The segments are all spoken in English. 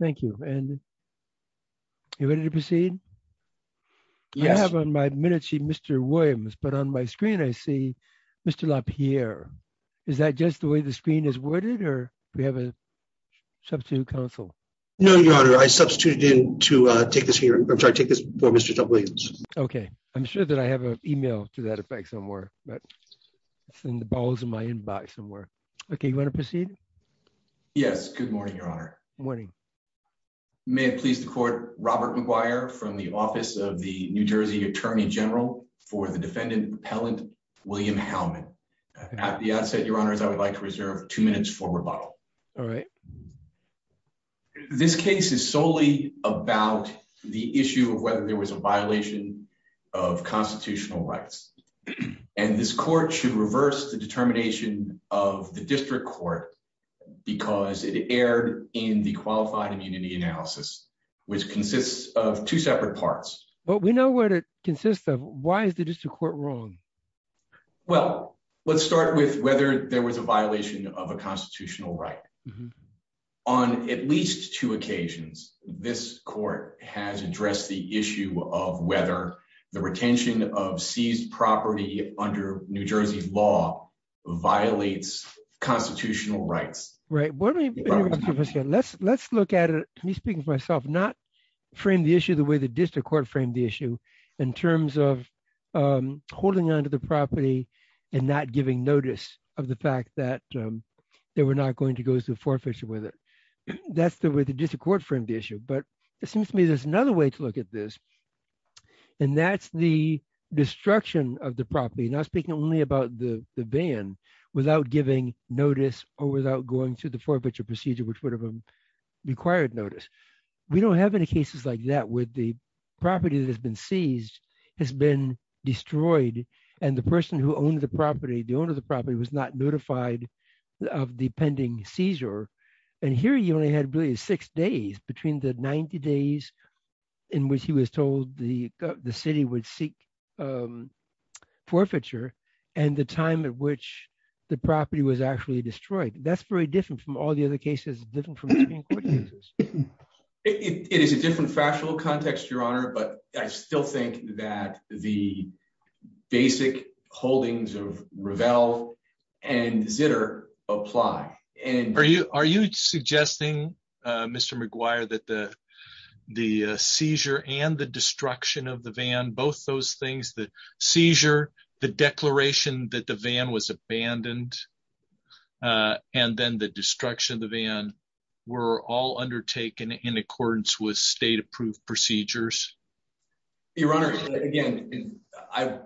Thank you. And you ready to proceed? Yes. I have on my minutesheet Mr. Williams, but on my screen I see Mr. LaPierre. Is that just the way the screen is worded, or do we have a substitute counsel? No, Your Honor. I substituted him to take this for Mr. Williams. Okay. I'm sure that I have an email to that effect somewhere. It's in the balls of my inbox somewhere. Okay. You want to proceed? Yes. Good morning, Your Honor. Good morning. May it please the Court, Robert McGuire from the office of the New Jersey Attorney General for the defendant, Appellant William Hellman. At the outset, Your Honors, I would like to reserve two minutes for rebuttal. All right. This case is solely about the issue of whether there was a violation of constitutional rights. And this Court should reverse the determination of the district court because it erred in the qualified immunity analysis, which consists of two separate parts. But we know what it consists of. Why is the district court wrong? Well, let's start with whether there was a violation of a constitutional right. On at least two occasions, this Court has addressed the issue of whether the retention of seized property under New Jersey law violates constitutional rights. Right. Let's look at it. Let me speak for myself, not frame the issue the way the district court framed the issue in terms of holding onto the property and not giving notice of the fact that they were not going to go to forfeiture with it. That's the way the district court framed the issue. But it seems to me there's another way to look at this. And that's the destruction of the property, not speaking only about the ban, without giving notice or without going to the forfeiture procedure, which would have required notice. We don't have any cases like that with the property that has been seized, has been destroyed, and the person who owned the property, the owner of the property, was not notified of the pending seizure. And here you only had, I believe, six days between the 90 days in which he was told the city would seek forfeiture and the time at which the property was actually destroyed. That's very different from all the other cases. It is a different factual context, Your Honor, but I still think that the basic holdings of Revell and Zitter apply. Are you suggesting, Mr. McGuire, that the seizure and the destruction of the van, both those things, the seizure, the declaration that the van was abandoned, and then the destruction of the van, were all undertaken in accordance with state-approved procedures? Your Honor, again, I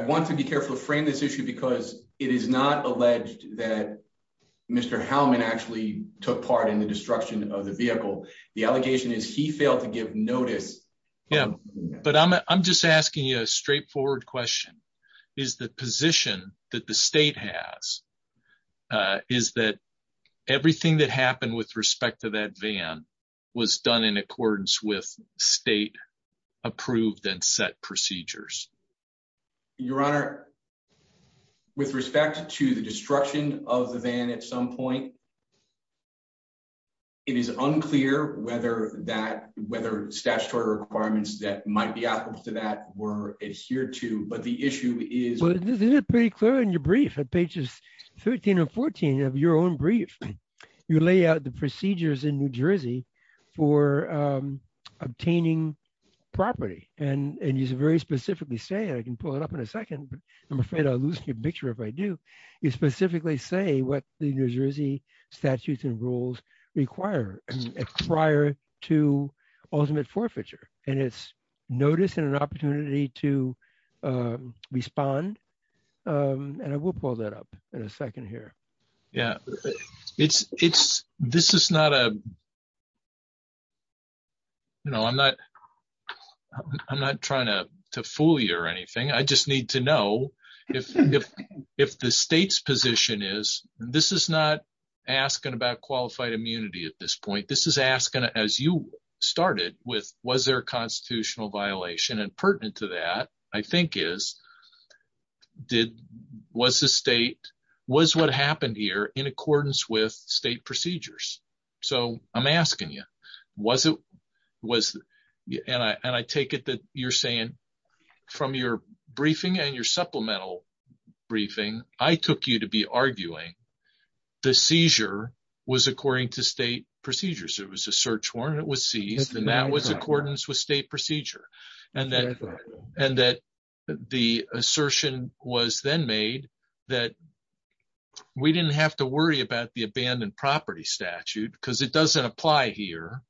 want to be careful to frame this issue because it is not alleged that Mr. Hellman actually took part in the destruction of the vehicle. The allegation is he failed to give notice. Yeah, but I'm just asking you a straightforward question. Is the position that the state has is that everything that happened with respect to that van was done in accordance with state-approved and set procedures? Your Honor, with respect to the destruction of the van at some point, it is unclear whether statutory requirements that might be applicable to that were adhered to. Well, this is pretty clear in your brief. On pages 13 and 14 of your own brief, you lay out the procedures in New Jersey for obtaining property, and you very specifically say, and I can pull it up in a second, but I'm afraid I'll lose your picture if I do, you specifically say what the New Jersey statutes and rules require to ultimate forfeiture. And it's notice and an opportunity to respond, and I will pull that up in a second here. This is not a – I'm not trying to fool you or anything. I just need to know if the state's position is – this is not asking about qualified immunity at this point. This is asking, as you started, was there a constitutional violation? And pertinent to that, I think, is was the state – was what happened here in accordance with state procedures? So I'm asking you, was it – and I take it that you're saying from your briefing and your supplemental briefing, I took you to be arguing the seizure was according to state procedures. It was a search warrant, it was seized, and that was accordance with state procedure. And that the assertion was then made that we didn't have to worry about the abandoned property statute because it doesn't apply here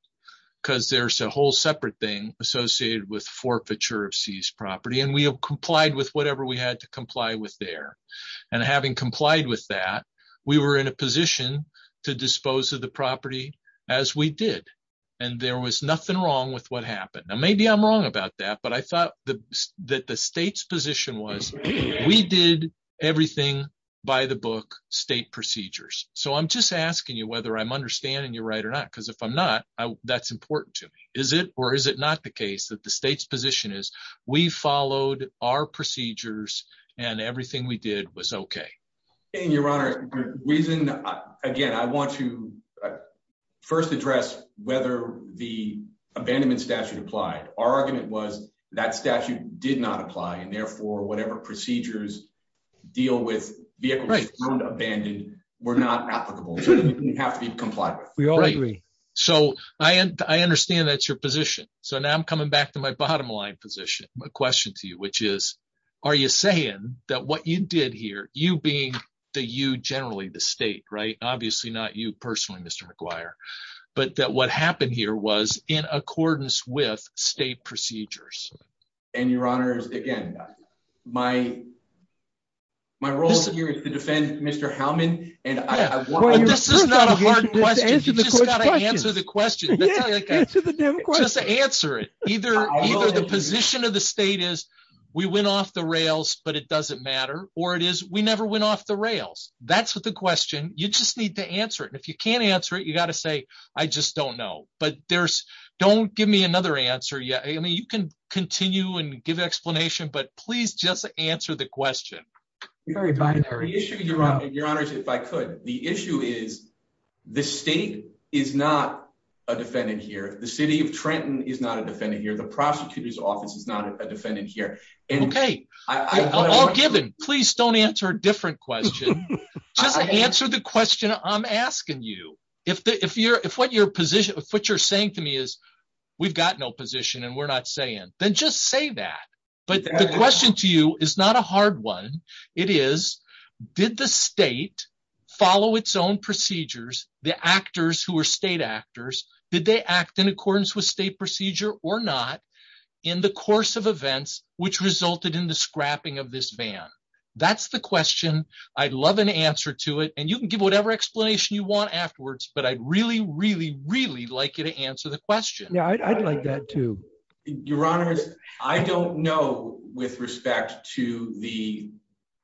because there's a whole separate thing associated with forfeiture of seized property. And we have complied with whatever we had to comply with there. And having complied with that, we were in a position to dispose of the property as we did. And there was nothing wrong with what happened. Now, maybe I'm wrong about that, but I thought that the state's position was we did everything by the book, state procedures. So I'm just asking you whether I'm understanding you right or not, because if I'm not, that's important to me. Is it or is it not the case that the state's position is we followed our procedures and everything we did was okay? Your Honor, the reason – again, I want to first address whether the abandonment statute applied. Our argument was that statute did not apply, and therefore, whatever procedures deal with vehicles found abandoned were not applicable. We didn't have to comply with it. We all agree. So I understand that's your position. So now I'm coming back to my bottom line position, my question to you, which is are you saying that what you did here, you being the you generally, the state, right? Obviously not you personally, Mr. McGuire, but that what happened here was in accordance with state procedures. And, Your Honor, again, my role here is to defend Mr. Howman. This is not a hard question. You just got to answer the question. Just answer it. Either the position of the state is we went off the rails, but it doesn't matter, or it is we never went off the rails. That's the question. You just need to answer it. If you can't answer it, you got to say, I just don't know. But don't give me another answer yet. I mean, you can continue and give explanation, but please just answer the question. Your Honor, if I could, the issue is the state is not a defendant here. The city of Trenton is not a defendant here. The prosecutor's office is not a defendant here. Okay. All given, please don't answer a different question. Just answer the question I'm asking you. If what you're saying to me is we've got no position and we're not saying, then just say that. But the question to you is not a hard one. It is, did the state follow its own procedures, the actors who are state actors, did they act in accordance with state procedure or not in the course of events which resulted in the scrapping of this van? That's the question. I'd love an answer to it, and you can give whatever explanation you want afterwards, but I'd really, really, really like you to answer the question. Yeah, I'd like that, too. Your Honor, I don't know with respect to the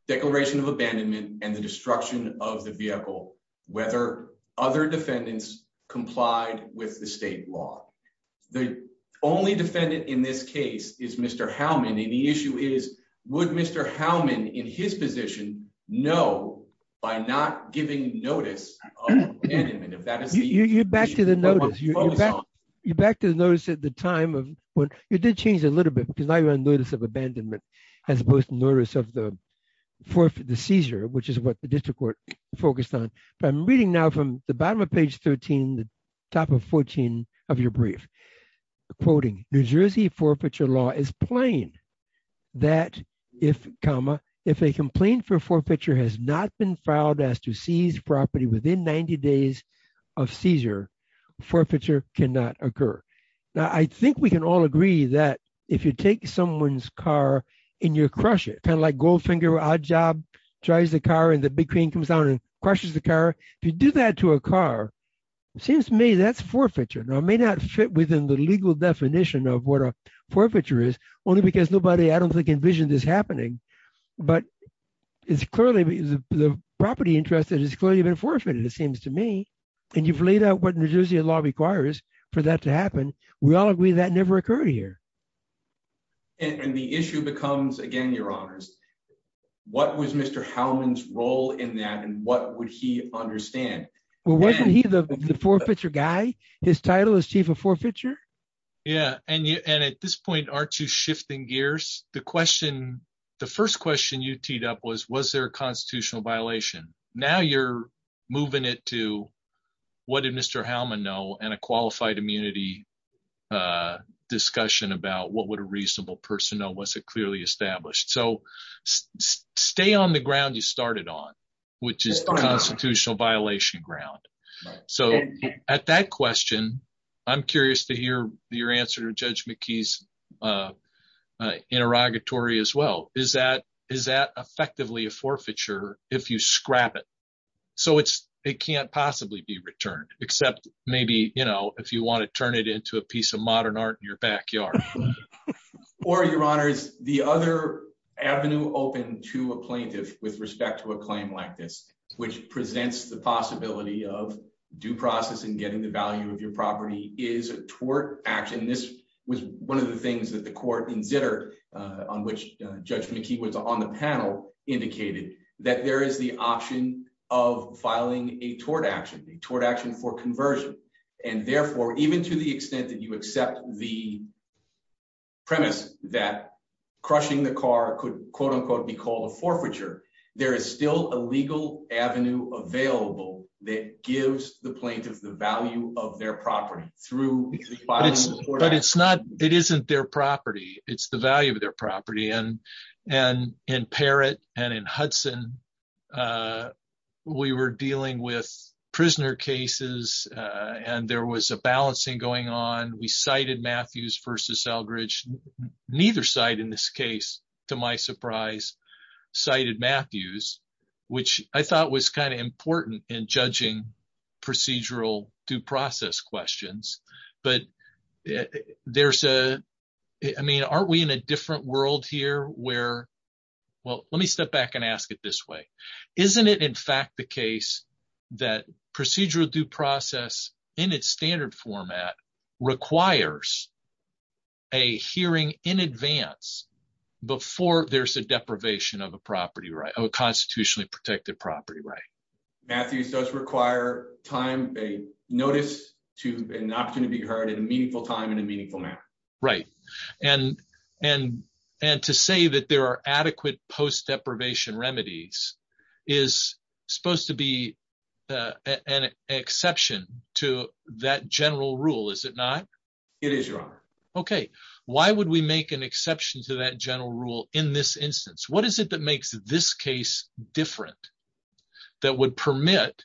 declaration of abandonment and the destruction of the vehicle whether other defendants complied with the state law. The only defendant in this case is Mr. Howman, and the issue is would Mr. Howman in his position know by not giving notice of abandonment? You're back to the notice. You're back to the notice at the time. It did change a little bit because now you're on notice of abandonment as opposed to notice of the seizure, which is what the district court focused on. I'm reading now from the bottom of page 13, the top of 14 of your brief, quoting, New Jersey forfeiture law is plain that if, comma, if a complaint for forfeiture has not been filed as to seize property within 90 days of seizure, forfeiture cannot occur. Now, I think we can all agree that if you take someone's car and you crush it, kind of like Goldfinger or Oddjob drives the car and the big crane comes down and crushes the car, if you do that to a car, it seems to me that's forfeiture. Now, it may not fit within the legal definition of what a forfeiture is only because nobody, I don't think, envisioned this happening, but it's clearly the property interest is clearly been forfeited, it seems to me, and you've laid out what New Jersey law requires for that to happen. We all agree that never occurred here. And the issue becomes, again, Your Honors, what was Mr. Howman's role in that and what would he understand? Wasn't he the forfeiture guy? His title was chief of forfeiture? Yeah, and at this point, aren't you shifting gears? The question, the first question you teed up was, was there a constitutional violation? Now you're moving it to what did Mr. Howman know and a qualified immunity discussion about what would a reasonable person know, was it clearly established? So, stay on the ground you started on, which is constitutional violation ground. So, at that question, I'm curious to hear your answer to Judge McKee's interrogatory as well. Is that effectively a forfeiture if you scrap it? So, it can't possibly be returned, except maybe, you know, if you want to turn it into a piece of modern art in your backyard. Or, Your Honors, the other avenue open to a plaintiff with respect to a claim like this, which presents the possibility of due process and getting the value of your property is a tort action. This was one of the things that the court in Zitter, on which Judge McKee was on the panel, indicated that there is the option of filing a tort action, a tort action for conversion. And therefore, even to the extent that you accept the premise that crushing the car could quote unquote be called a forfeiture, there is still a legal avenue available that gives the plaintiff the value of their property through filing a tort action. But it's not, it isn't their property, it's the value of their property. And in Parrott and in Hudson, we were dealing with prisoner cases and there was a balancing going on. We cited Matthews versus Eldridge. Neither side in this case, to my surprise, cited Matthews, which I thought was kind of important in judging procedural due process questions. But there's a, I mean, aren't we in a different world here where, well, let me step back and ask it this way. Isn't it in fact the case that procedural due process in its standard format requires a hearing in advance before there's a deprivation of a property right, of a constitutionally protected property right? Matthews does require time, a notice to an opportunity to be heard and a meaningful time and a meaningful amount. Right. And to say that there are adequate post deprivation remedies is supposed to be an exception to that general rule, is it not? It is, Your Honor. Okay. Why would we make an exception to that general rule in this instance? What is it that makes this case different that would permit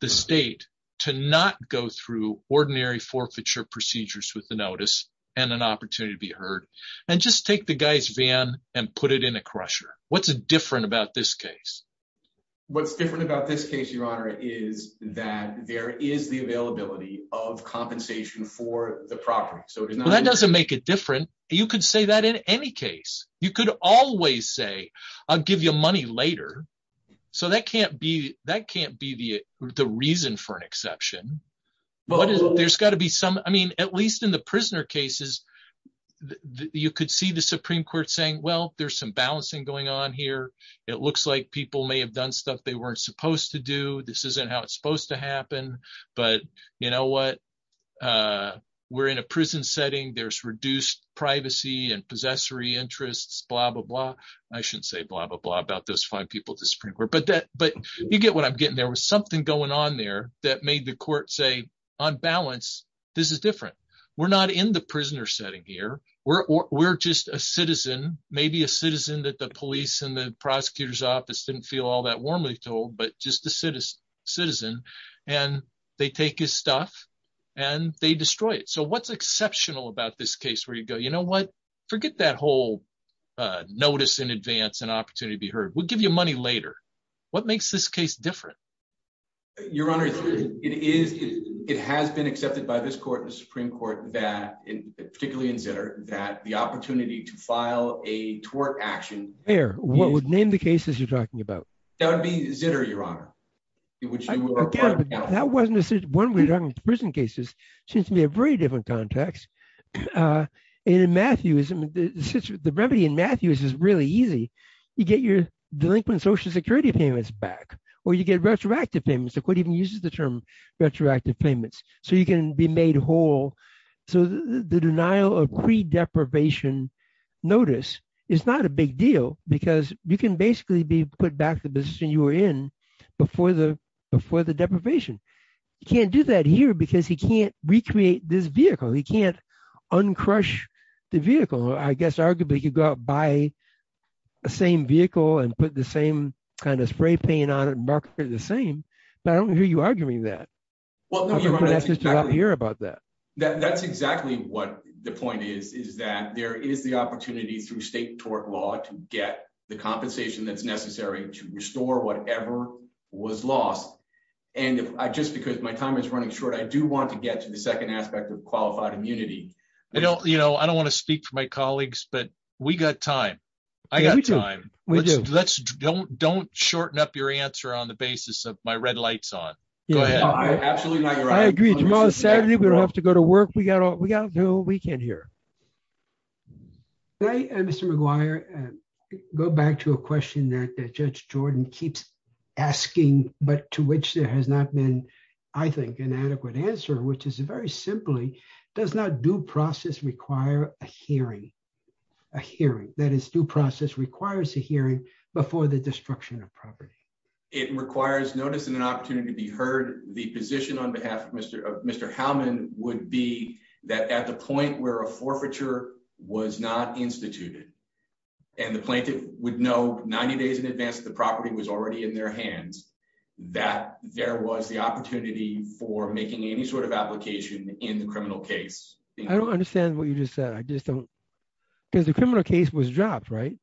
the state to not go through ordinary forfeiture procedures with the notice and an opportunity to be heard and just take the guy's van and put it in a crusher? What's different about this case? What's different about this case, Your Honor, is that there is the availability of compensation for the property. That doesn't make it different. You could say that in any case. You could always say, I'll give you money later. So that can't be, that can't be the reason for an exception. There's got to be some, I mean, at least in the prisoner cases, you could see the Supreme Court saying, well, there's some balancing going on here. It looks like people may have done stuff they weren't supposed to do. This isn't how it's supposed to happen. But you know what? We're in a prison setting. There's reduced privacy and possessory interests, blah, blah, blah. I shouldn't say blah, blah, blah about those five people at the Supreme Court, but you get what I'm getting. There was something going on there that made the court say, on balance, this is different. We're not in the prisoner setting here. We're just a citizen, maybe a citizen that the police and the prosecutor's office didn't feel all that warmly told, but just a citizen. And they take his stuff and they destroy it. So what's exceptional about this case where you go, you know what? Forget that whole notice in advance, an opportunity to be heard. We'll give you money later. What makes this case different? Your Honor, it has been accepted by this court, the Supreme Court, particularly in Zitter, that the opportunity to file a tort action. What would name the cases you're talking about? That would be Zitter, Your Honor. That wasn't just one of the prison cases. It seems to be a very different context. And in Matthews, the remedy in Matthews is really easy. You get your delinquent Social Security payments back or you get retroactive payments. The court even uses the term retroactive payments so you can be made whole. So the denial of pre-deprivation notice is not a big deal because you can basically be put back to the position you were in before the deprivation. You can't do that here because he can't recreate this vehicle. He can't uncrush the vehicle. I guess arguably you could go out and buy the same vehicle and put the same kind of spray paint on it and mark it the same, but I don't hear you arguing that. I don't hear about that. That's exactly what the point is, is that there is the opportunity through state tort law to get the compensation that's necessary to restore whatever was lost. And just because my time is running short, I do want to get to the second aspect of qualified immunity. I don't want to speak for my colleagues, but we got time. I got time. We do. Don't shorten up your answer on the basis of my red lights on. I agree. Tomorrow is Saturday. We don't have to go to work. We can't hear. Can I, Mr. McGuire, go back to a question that Judge Jordan keeps asking but to which there has not been, I think, an adequate answer, which is very simply, does not due process require a hearing? A hearing, that is due process requires a hearing before the destruction of property. It requires notice and an opportunity to be heard. The position on behalf of Mr. Howman would be that at the point where a forfeiture was not instituted and the plaintiff would know 90 days in advance that the property was already in their hands, that there was the opportunity for making any sort of application in the criminal case. I don't understand what you just said. I just don't. Because the criminal case was dropped, right?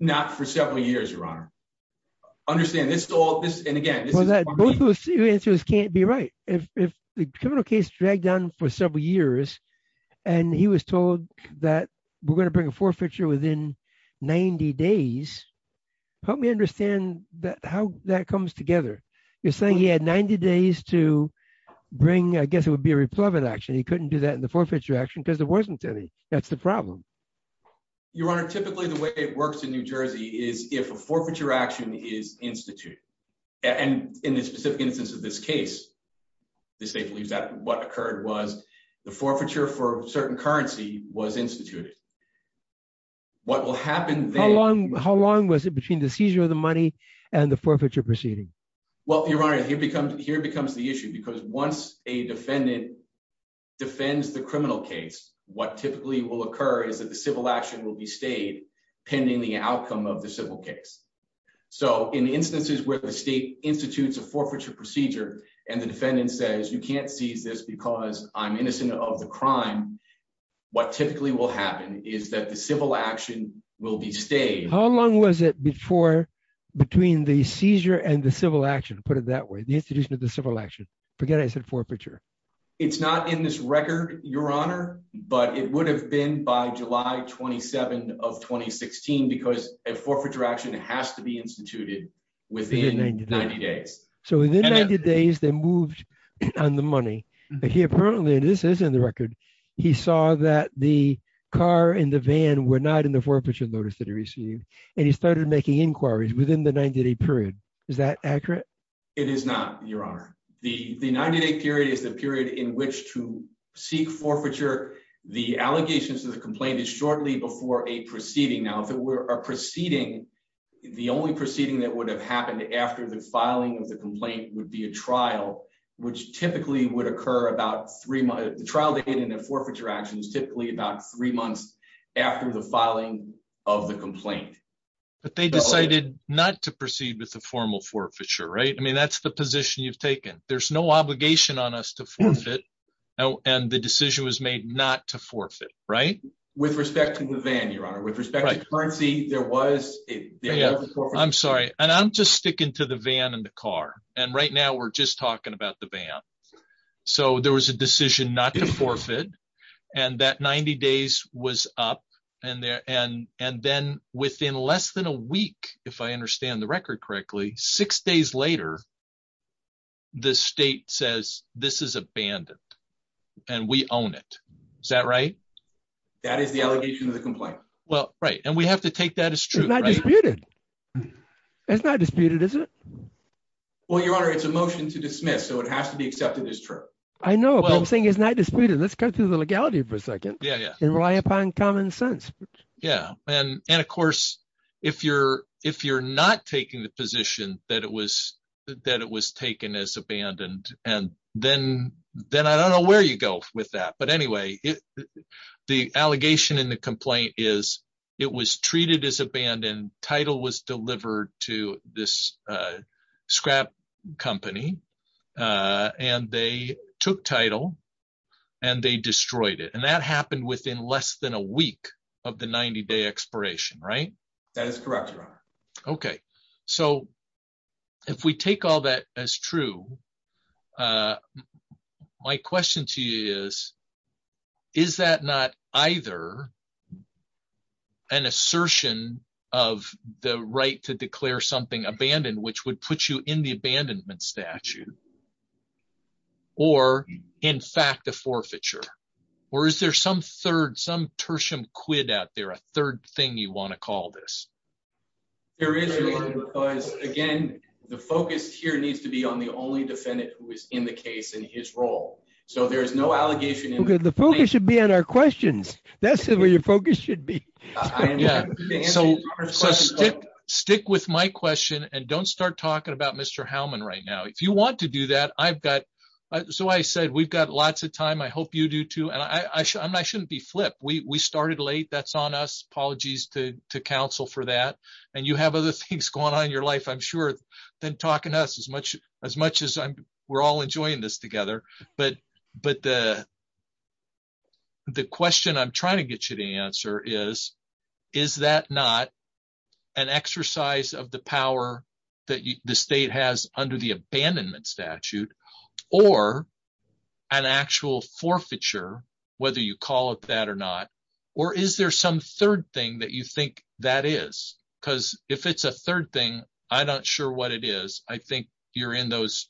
Not for several years, Your Honor. I understand. This is all, and again. Both of your answers can't be right. If the criminal case dragged on for several years and he was told that we're going to bring a forfeiture within 90 days, help me understand how that comes together. You're saying he had 90 days to bring, I guess it would be a replevant action. He couldn't do that in the forfeiture action because it wasn't there. That's the problem. Your Honor, typically the way it works in New Jersey is if a forfeiture action is instituted. And in the specific instance of this case, the state believes that what occurred was the forfeiture for a certain currency was instituted. What will happen then? How long was it between the seizure of the money and the forfeiture proceeding? Well, Your Honor, here comes the issue. Because once a defendant defends the criminal case, what typically will occur is that the civil action will be stayed pending the outcome of the civil case. So in instances where the state institutes a forfeiture procedure and the defendant says you can't see this because I'm innocent of the crime, what typically will happen is that the civil action will be stayed. How long was it before between the seizure and the civil action? Put it that way. The introduction of the civil action. Forget I said forfeiture. It's not in this record, Your Honor, but it would have been by July 27 of 2016 because a forfeiture action has to be instituted within 90 days. So within 90 days they moved on the money. But he apparently, and this is in the record, he saw that the car and the van were not in the forfeiture notice that he received. And he started making inquiries within the 90 day period. Is that accurate? It is not, Your Honor. The 90 day period is the period in which to seek forfeiture. The allegations of the complaint is shortly before a proceeding. Now, if it were a proceeding, the only proceeding that would have happened after the filing of the complaint would be a trial, which typically would occur about three months. The trial date and the forfeiture action is typically about three months after the filing of the complaint. But they decided not to proceed with the formal forfeiture, right? I mean, that's the position you've taken. There's no obligation on us to forfeit. And the decision was made not to forfeit, right? With respect to the van, Your Honor. With respect to currency, there was a forfeiture. I'm sorry. And I'm just sticking to the van and the car. And right now we're just talking about the van. So there was a decision not to forfeit. And that 90 days was up. And then within less than a week, if I understand the record correctly, six days later, the state says this is abandoned and we own it. Is that right? That is the allegation of the complaint. Well, right. And we have to take that as true. It's not disputed. It's not disputed, is it? Well, Your Honor, it's a motion to dismiss. So it has to be accepted as true. I know. But the thing is not disputed. Let's go through the legality for a second and rely upon common sense. Yeah. And, of course, if you're not taking the position that it was taken as abandoned, then I don't know where you go with that. But anyway, the allegation in the complaint is it was treated as abandoned. Title was delivered to this scrap company. And they took title and they destroyed it. And that happened within less than a week of the 90-day expiration, right? That is correct, Your Honor. Okay. So if we take all that as true, my question to you is, is that not either an assertion of the right to declare something abandoned, which would put you in the abandonment statute, or, in fact, a forfeiture? Or is there some third, some tertium quid out there, a third thing you want to call this? There is, Your Honor, because, again, the focus here needs to be on the only defendant who is in the case in his role. So there's no allegation in the complaint. The focus should be on our questions. That's where your focus should be. Yeah. So stick with my question and don't start talking about Mr. Howman right now. If you want to do that, I've got – so I said we've got lots of time. I hope you do, too. And I shouldn't be flipped. We started late. That's on us. Apologies to counsel for that. And you have other things going on in your life, I'm sure, than talking to us, as much as we're all enjoying this together. But the question I'm trying to get you to answer is, is that not an exercise of the power that the state has under the Abandonment Statute, or an actual forfeiture, whether you call it that or not? Or is there some third thing that you think that is? Because if it's a third thing, I'm not sure what it is. I think you're in those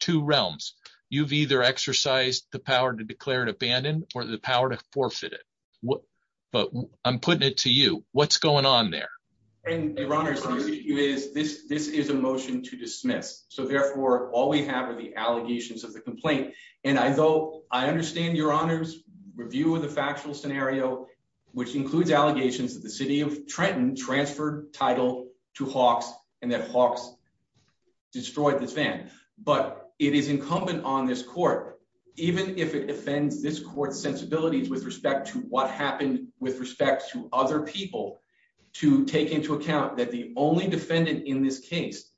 two realms. You've either exercised the power to declare it abandoned or the power to forfeit it. But I'm putting it to you. What's going on there? Your Honor, this is a motion to dismiss. So, therefore, all we have are the allegations of the complaint. And I go, I understand, Your Honor's review of the factual scenario, which includes allegations that the city of Trenton transferred title to Hawks and that Hawks destroyed the thing. But it is incumbent on this court, even if it defends this court's sensibilities with respect to what happened with respect to other people, to take into account that the only defendant in this case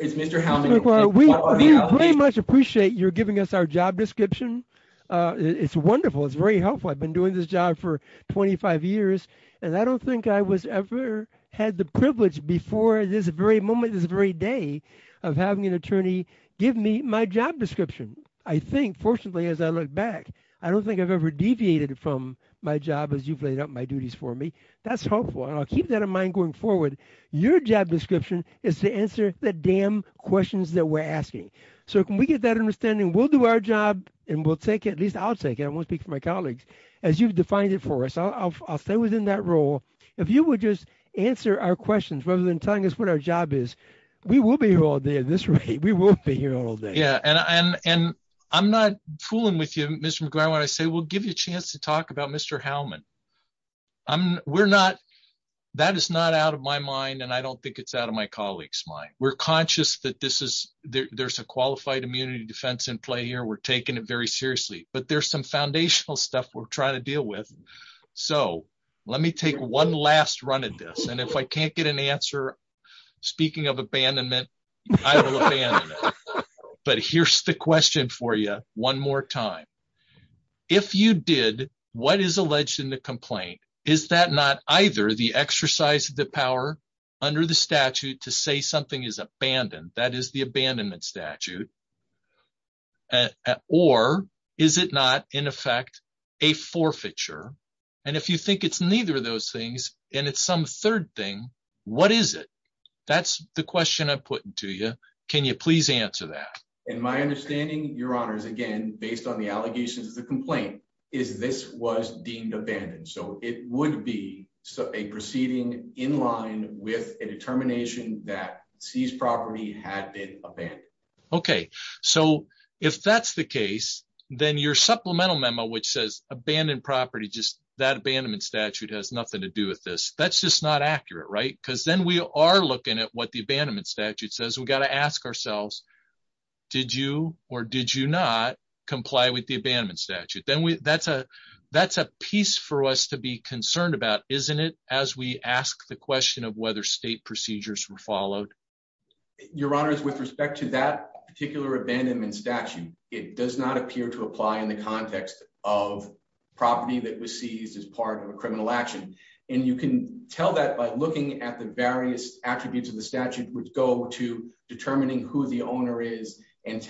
is Major Hounding. We very much appreciate your giving us our job description. It's wonderful. It's very helpful. I've been doing this job for 25 years, and I don't think I was ever had the privilege before this very moment, this very day, of having an attorney give me my job description. I think, fortunately, as I look back, I don't think I've ever deviated from my job as you've laid out my duties for me. That's helpful. I'll keep that in mind going forward. Your job description is to answer the damn questions that we're asking. So, can we get that understanding? We'll do our job, and we'll take it. At least I'll take it. I won't speak for my colleagues. As you've defined it for us, I'll stay within that role. If you would just answer our questions rather than telling us what our job is, we will be here all day at this rate. We will be here all day. Yeah, and I'm not fooling with you, Mr. McGuire, when I say we'll give you a chance to talk about Mr. Howman. That is not out of my mind, and I don't think it's out of my colleagues' mind. We're conscious that there's a qualified immunity defense in play here. We're taking it very seriously. But there's some foundational stuff we're trying to deal with. So, let me take one last run at this, and if I can't get an answer, speaking of abandonment, I will abandon it. But here's the question for you one more time. If you did, what is alleged in the complaint? Is that not either the exercise of the power under the statute to say something is abandoned? That is the abandonment statute. Or is it not, in effect, a forfeiture? And if you think it's neither of those things and it's some third thing, what is it? That's the question I'm putting to you. Can you please answer that? And my understanding, Your Honors, again, based on the allegations of the complaint, is this was deemed abandoned. So, it would be a proceeding in line with a determination that seized property had been abandoned. Okay. So, if that's the case, then your supplemental memo, which says abandoned property, just that abandonment statute has nothing to do with this, that's just not accurate, right? Because then we are looking at what the abandonment statute says. We've got to ask ourselves, did you or did you not comply with the abandonment statute? That's a piece for us to be concerned about, isn't it, as we ask the question of whether state procedures were followed? Your Honors, with respect to that particular abandonment statute, it does not appear to apply in the context of property that was seized as part of a criminal action. And you can tell that by looking at the various attributes of the statute, which go to determining who the owner is and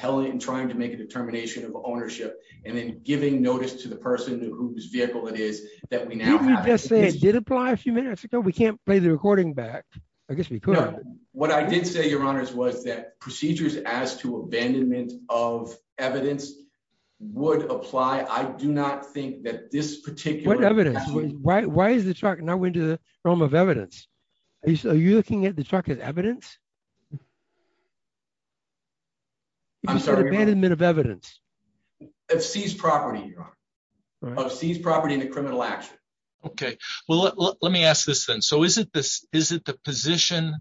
trying to make a determination of ownership, and then giving notice to the person and who this vehicle is that we now have. Didn't you just say it did apply a few minutes ago? We can't play the recording back. I guess we could. What I did say, Your Honors, was that procedures as to abandonment of evidence would apply. I do not think that this particular statute… What evidence? Why is the truck not going to the realm of evidence? Are you looking at the truck as evidence? I'm sorry, Your Honors. Abandonment of evidence. It's seized property, Your Honors. Seized property in a criminal action. Okay. Well, let me ask this then. So is it the position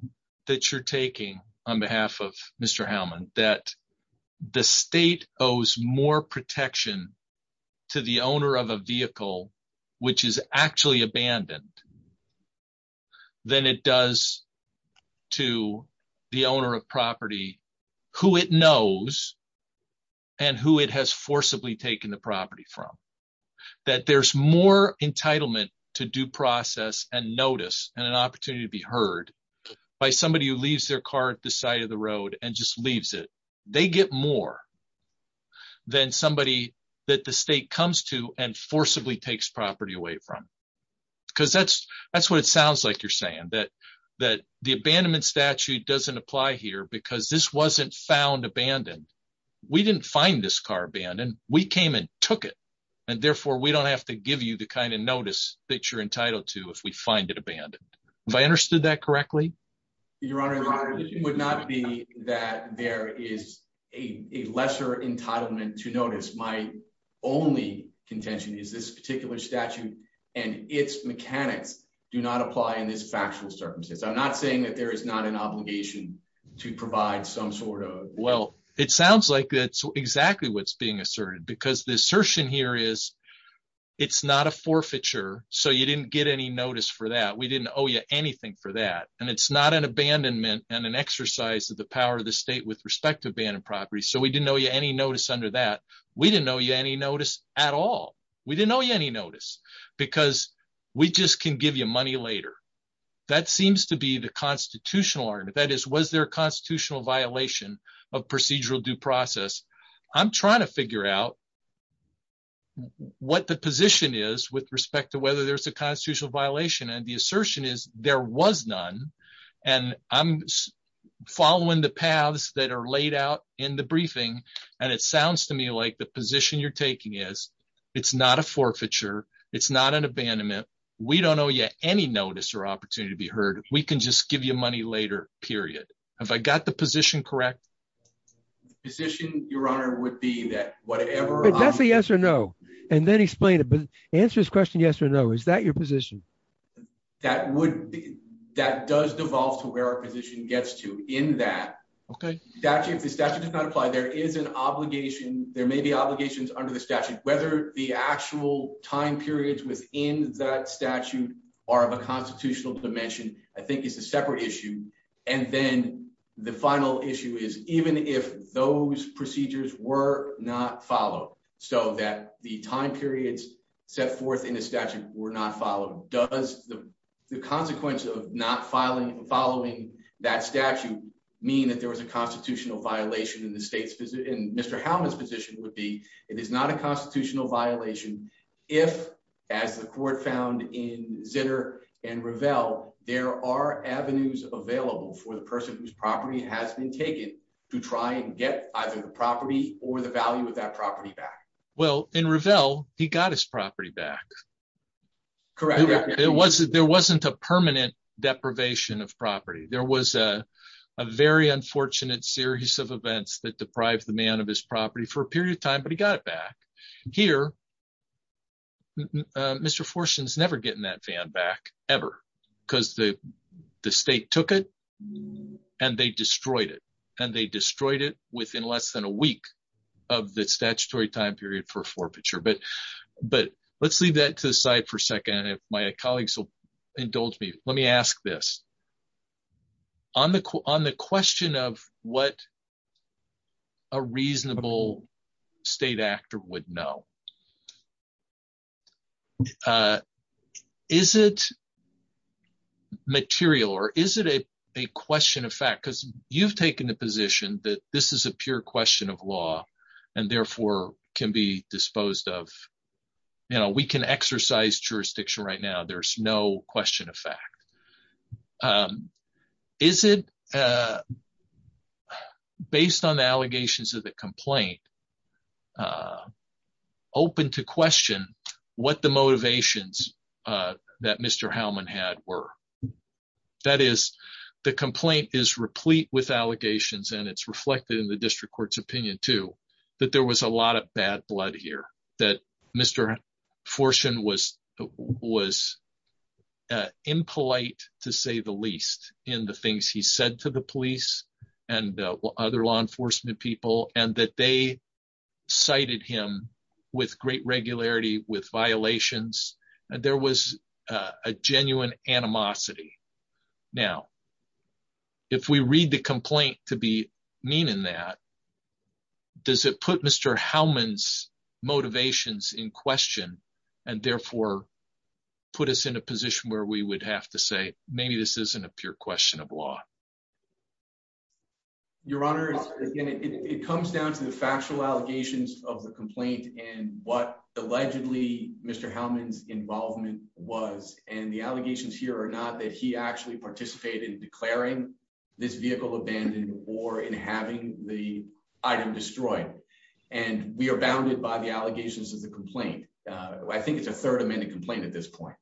that you're taking on behalf of Mr. Hellman that the state owes more protection to the owner of a vehicle which is actually abandoned than it does to the owner of property who it knows and who it has forcibly taken the property from? That there's more entitlement to due process and notice and an opportunity to be heard by somebody who leaves their car at the side of the road and just leaves it. They get more than somebody that the state comes to and forcibly takes property away from. Because that's what it sounds like you're saying, that the abandonment statute doesn't apply here because this wasn't found abandoned. We didn't find this car abandoned. We came and took it. And therefore, we don't have to give you the kind of notice that you're entitled to if we find it abandoned. Have I understood that correctly? Your Honors, it would not be that there is a lesser entitlement to notice. My only contention is this particular statute and its mechanics do not apply in this factual circumstance. I'm not saying that there is not an obligation to provide some sort of… Well, it sounds like that's exactly what's being asserted because the assertion here is it's not a forfeiture, so you didn't get any notice for that. We didn't owe you anything for that. And it's not an abandonment and an exercise of the power of the state with respect to abandoned property, so we didn't owe you any notice under that. We didn't owe you any notice at all. We didn't owe you any notice because we just can give you money later. That seems to be the constitutional argument. That is, was there a constitutional violation of procedural due process? I'm trying to figure out what the position is with respect to whether there's a constitutional violation, and the assertion is there was none. And I'm following the paths that are laid out in the briefing, and it sounds to me like the position you're taking is it's not a forfeiture. It's not an abandonment. We don't owe you any notice or opportunity to be heard. We can just give you money later, period. Have I got the position correct? The position, Your Honor, would be that whatever… But that's the yes or no, and then explain it. Answer this question yes or no. Is that your position? That does devolve to where our position gets to in that. Okay. The statute does not apply. There may be obligations under the statute. Whether the actual time periods within that statute are of a constitutional dimension I think is a separate issue. And then the final issue is even if those procedures were not followed so that the time periods set forth in the statute were not followed, does the consequence of not following that statute mean that there was a constitutional violation in the state's position? And Mr. Howland's position would be it is not a constitutional violation if, as the court found in Zitter and Revell, there are avenues available for the person whose property has been taken to try and get either the property or the value of that property back. Well, in Revell, he got his property back. Correct. There wasn't a permanent deprivation of property. There was a very unfortunate series of events that deprived the man of his property for a period of time, but he got it back. Here, Mr. Forston's never getting that van back, ever, because the state took it and they destroyed it, and they destroyed it within less than a week of the statutory time period for forfeiture. But let's leave that to the side for a second, and my colleagues will indulge me. Let me ask this. On the question of what a reasonable state actor would know, is it material or is it a question of fact? Because you've taken the position that this is a pure question of law and therefore can be disposed of. You know, we can exercise jurisdiction right now. There's no question of fact. Is it, based on the allegations of the complaint, open to question what the motivations that Mr. Howland had were? That is, the complaint is replete with allegations, and it's reflected in the district court's opinion, too, that there was a lot of bad blood here, that Mr. Forston was impolite, to say the least, in the things he said to the police and other law enforcement people, and that they cited him with great regularity, with violations. There was a genuine animosity. Now, if we read the complaint to be mean in that, does it put Mr. Howland's motivations in question and therefore put us in a position where we would have to say, maybe this isn't a pure question of law? Your Honor, it comes down to the factual allegations of the complaint and what, allegedly, Mr. Howland's involvement was, and the allegations here are not that he actually participated in declaring this vehicle abandoned or in having the item destroyed. And we are bounded by the allegations of the complaint. I think it's a Third Amendment complaint at this point.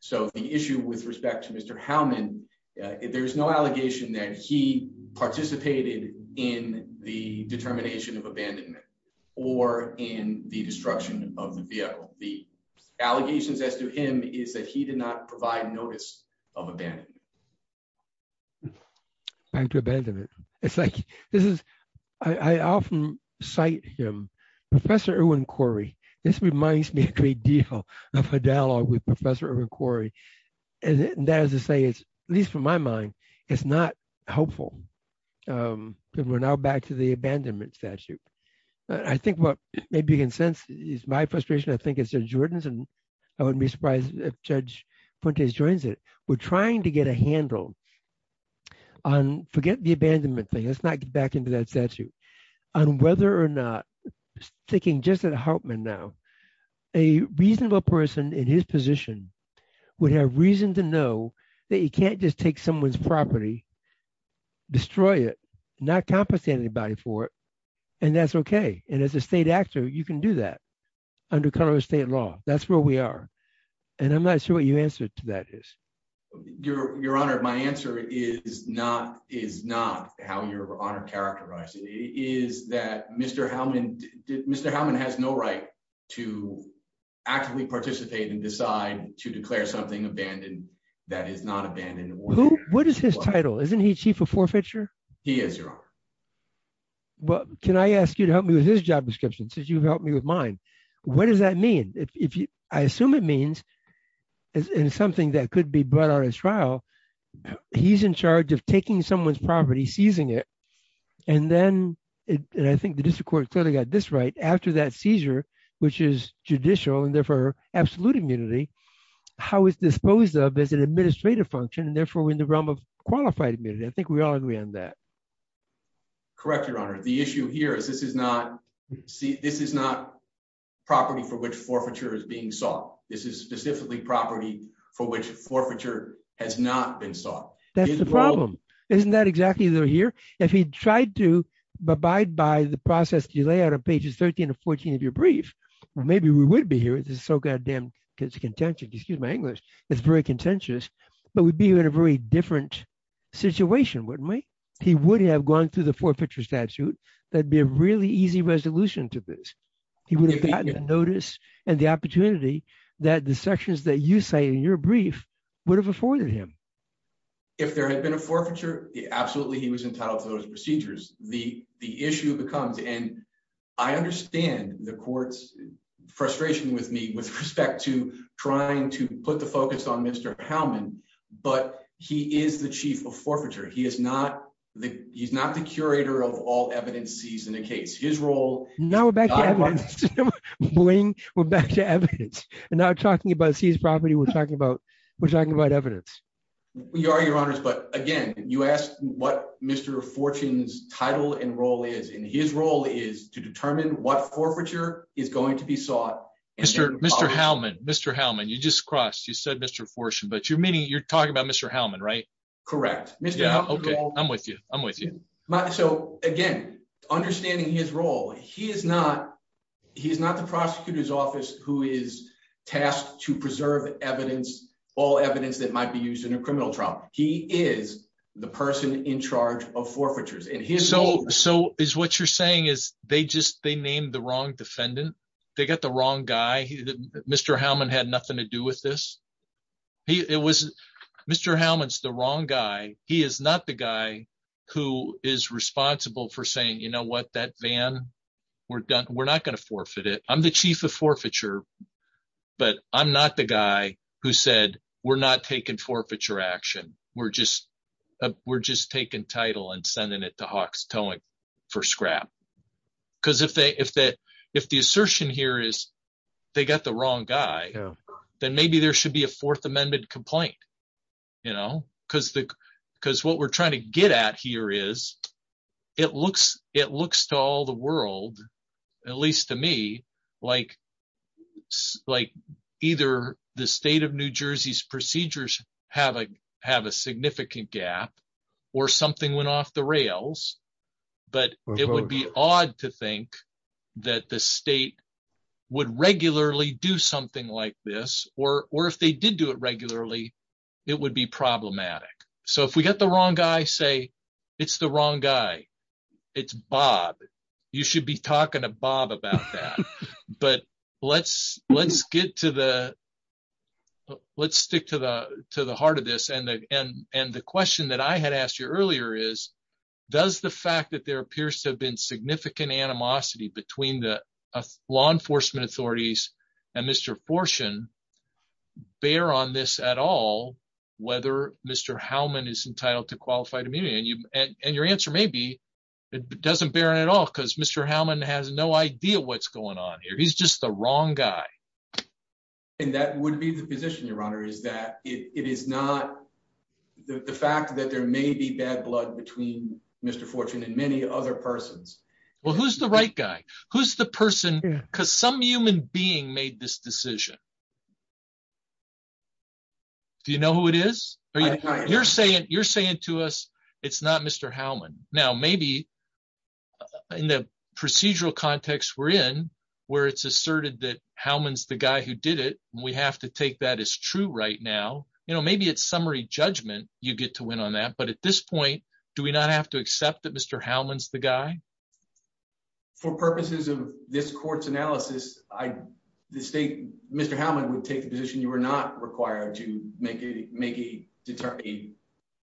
So, the issue with respect to Mr. Howland, there is no allegation that he participated in the determination of abandonment or in the destruction of the vehicle. The allegations as to him is that he did not provide notice of abandonment. Back to abandonment. It's like, this is, I often cite him. Professor Irwin Corey, this reminds me of a dialogue with Professor Irwin Corey. And that is to say, at least from my mind, it's not helpful. We're now back to the abandonment statute. I think what maybe you can sense is my frustration, I think it's Judge Jordan's, and I wouldn't be surprised if Judge Fuentes joins it. We're trying to get a handle on, forget the abandonment thing, let's not get back into that statute, on whether or not, sticking just at Hartman now, a reasonable person in his position would have reason to know that you can't just take someone's property, destroy it, not compensate anybody for it, and that's okay. And as a state actor, you can do that under Colorado State law. That's where we are. And I'm not sure what your answer to that is. Your Honor, my answer is not how your Honor characterized it. It is that Mr. Hellman has no right to actively participate and decide to declare something abandoned that is not abandoned. What is his title? Isn't he Chief of Forfeiture? He is, Your Honor. Well, can I ask you to help me with his job description since you've helped me with mine? What does that mean? I assume it means in something that could be brought on his trial, he's in charge of taking someone's property, seizing it, and then, and I think the district court clearly got this right, after that seizure, which is judicial and therefore absolute immunity, how it's disposed of is an administrative function, and therefore in the realm of qualified immunity. I think we all agree on that. Correct, Your Honor. The issue here is this is not property for which forfeiture is being sought. This is specifically property for which forfeiture has not been sought. That's the problem. Isn't that exactly what we hear? If he tried to abide by the process that you lay out on pages 13 and 14 of your brief, maybe we would be here. It's so goddamn contentious. Excuse my English. It's very contentious. But we'd be in a very different situation, wouldn't we? He would have gone through the forfeiture statute. That'd be a really easy resolution to this. He would have gotten a notice and the opportunity that the sections that you say in your brief would have afforded him. If there had been a forfeiture, absolutely he was entitled to those procedures. The issue becomes, and I understand the court's frustration with me with respect to trying to put the focus on Mr. Forfeiture. He is not the he's not the curator of all evidence. He's in a case. His role. Now we're back. We're back to evidence and not talking about his property. We're talking about we're talking about evidence. We are, Your Honor. But again, you ask what Mr. Fortune's title and role is in his role is to determine what forfeiture is going to be sought. Mr. Mr. Hellman, Mr. Hellman, you just crossed. You said Mr. Fortune, but you're meeting. You're talking about Mr. Hellman, right? Correct. Yeah. Okay. I'm with you. I'm with you. So, again, understanding his role. He is not. He is not the prosecutor's office who is tasked to preserve evidence, all evidence that might be used in a criminal trial. He is the person in charge of forfeitures. And he is. So is what you're saying is they just they named the wrong defendant. They got the wrong guy. Mr. Hellman had nothing to do with this. It was Mr. Hellman's the wrong guy. He is not the guy who is responsible for saying, you know what, that van. We're done. We're not going to forfeit it. I'm the chief of forfeiture. But I'm not the guy who said we're not taking forfeiture action. We're just we're just taking title and sending it to Hawks towing for scrap. Because if they if that if the assertion here is they got the wrong guy, then maybe there should be a fourth amendment complaint. You know, because the because what we're trying to get at here is it looks it looks to all the world, at least to me, like, like, either the state of New Jersey's procedures have a have a significant gap or something went off the rails. But it would be odd to think that the state would regularly do something like this. Or if they did do it regularly, it would be problematic. So if we got the wrong guy, say it's the wrong guy. It's Bob. You should be talking to Bob about that. But let's, let's get to the. Let's stick to the, to the heart of this and and and the question that I had asked you earlier is, does the fact that there appears to have been significant animosity between the law enforcement authorities, and Mr. Fortune bear on this at all, whether Mr. How many is entitled to qualify to me and you and your answer maybe it doesn't bear at all because Mr Hammond has no idea what's going on here. He's just the wrong guy. And that would be the position your honor is that it is not the fact that there may be bad blood between Mr fortune and many other persons. Well, who's the right guy, who's the person, because some human being made this decision. Do you know who it is. You're saying you're saying to us. It's not Mr Howman. Now maybe in the procedural context we're in, where it's asserted that Howman's the guy who did it, we have to take that as true right now, you know, maybe it's summary judgment, you get to win on that but at this point. Do we not have to accept that Mr Howman's the guy for purposes of this court's analysis. I mistake, Mr Hammond would take a position you were not required to make a, make a,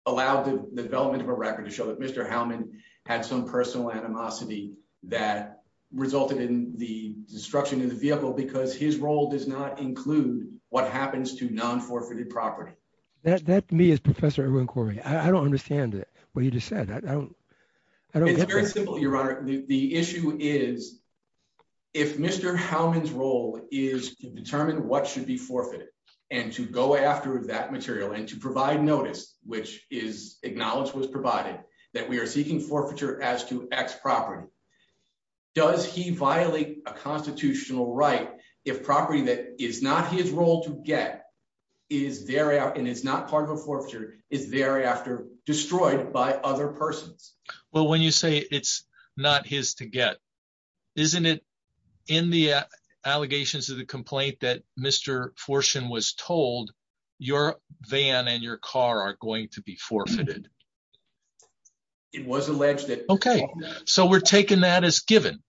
allow the development of a record to show that Mr Hammond had some personal animosity that resulted in the destruction in the vehicle because his role does not include what happens to non forfeited property. That that to me is Professor inquiry, I don't understand it. Well, you just said that I don't. The issue is, if Mr Howman's role is to determine what should be forfeited, and to go after that material and to provide notice, which is acknowledged was provided that we are seeking forfeiture as to X property. Does he violate a constitutional right if property that is not his role to get is there and it's not part of a forfeiture is thereafter destroyed by other persons. Well, when you say it's not his to get. Isn't it in the allegations of the complaint that Mr portion was told your van and your car are going to be forfeited. It was alleged that. Okay, so we're taking that as given.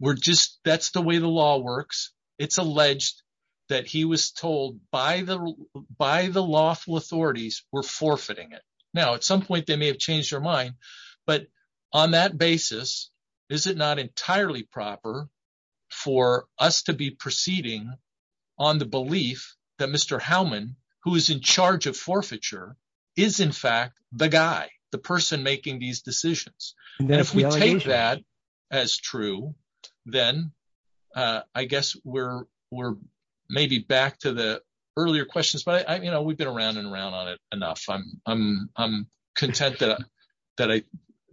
We're just, that's the way the law works. It's alleged that he was told by the by the lawful authorities were forfeiting it. Now at some point they may have changed your mind. But on that basis, is it not entirely proper for us to be proceeding on the belief that Mr Howman, who is in charge of forfeiture is in fact the guy, the person making these decisions. If we take that as true, then I guess we're, we're maybe back to the earlier questions but I you know we've been around and around on it enough I'm, I'm, I'm content that that I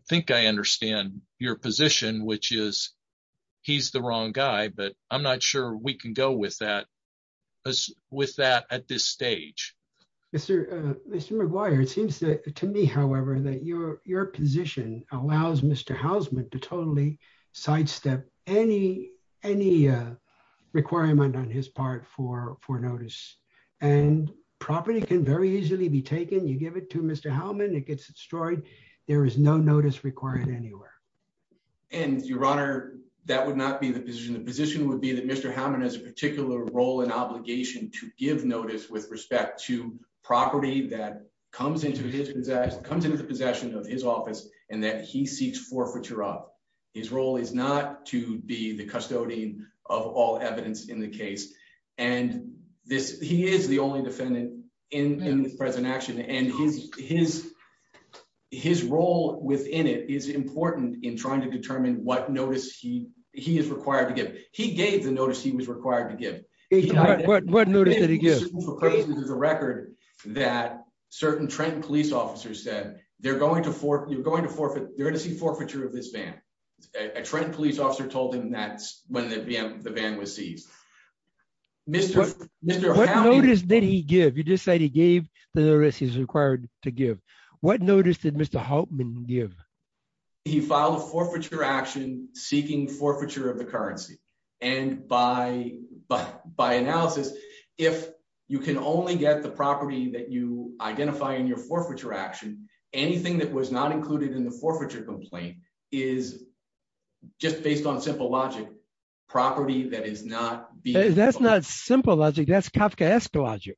think I understand your position, which is, he's the wrong guy but I'm not sure we can go with that. With that, at this stage. Mr. Mr McGuire it seems to me, however, that your, your position allows Mr Hausman to totally sidestep any, any requirement on his part for for notice and property can very easily be taken you give it to Mr Howman it gets destroyed. There is no notice required anywhere. And your honor, that would not be the position the position would be that Mr Howman has a particular role and obligation to give notice with respect to property that comes into his possession of his office, and that he seeks forfeiture up his role is not to be the custodian of all evidence in the case. And this, he is the only defendant in the present action and his, his, his role within it is important in trying to determine what notice he, he is required to get he gave the notice he was required to get. What notice did he give the record that certain trend police officers said they're going to for you're going to forfeit, you're going to see forfeiture of this van, a trend police officer told him that when the van was seized. Did he give you just said he gave the risk is required to give what notice did Mr Hoffman give. He filed forfeiture action, seeking forfeiture of the currency. And by, by, by analysis, if you can only get the property that you identify in your forfeiture action, anything that was not included in the forfeiture complaint is just based on simple logic property that is not. That's not simple logic that's Kafka logic.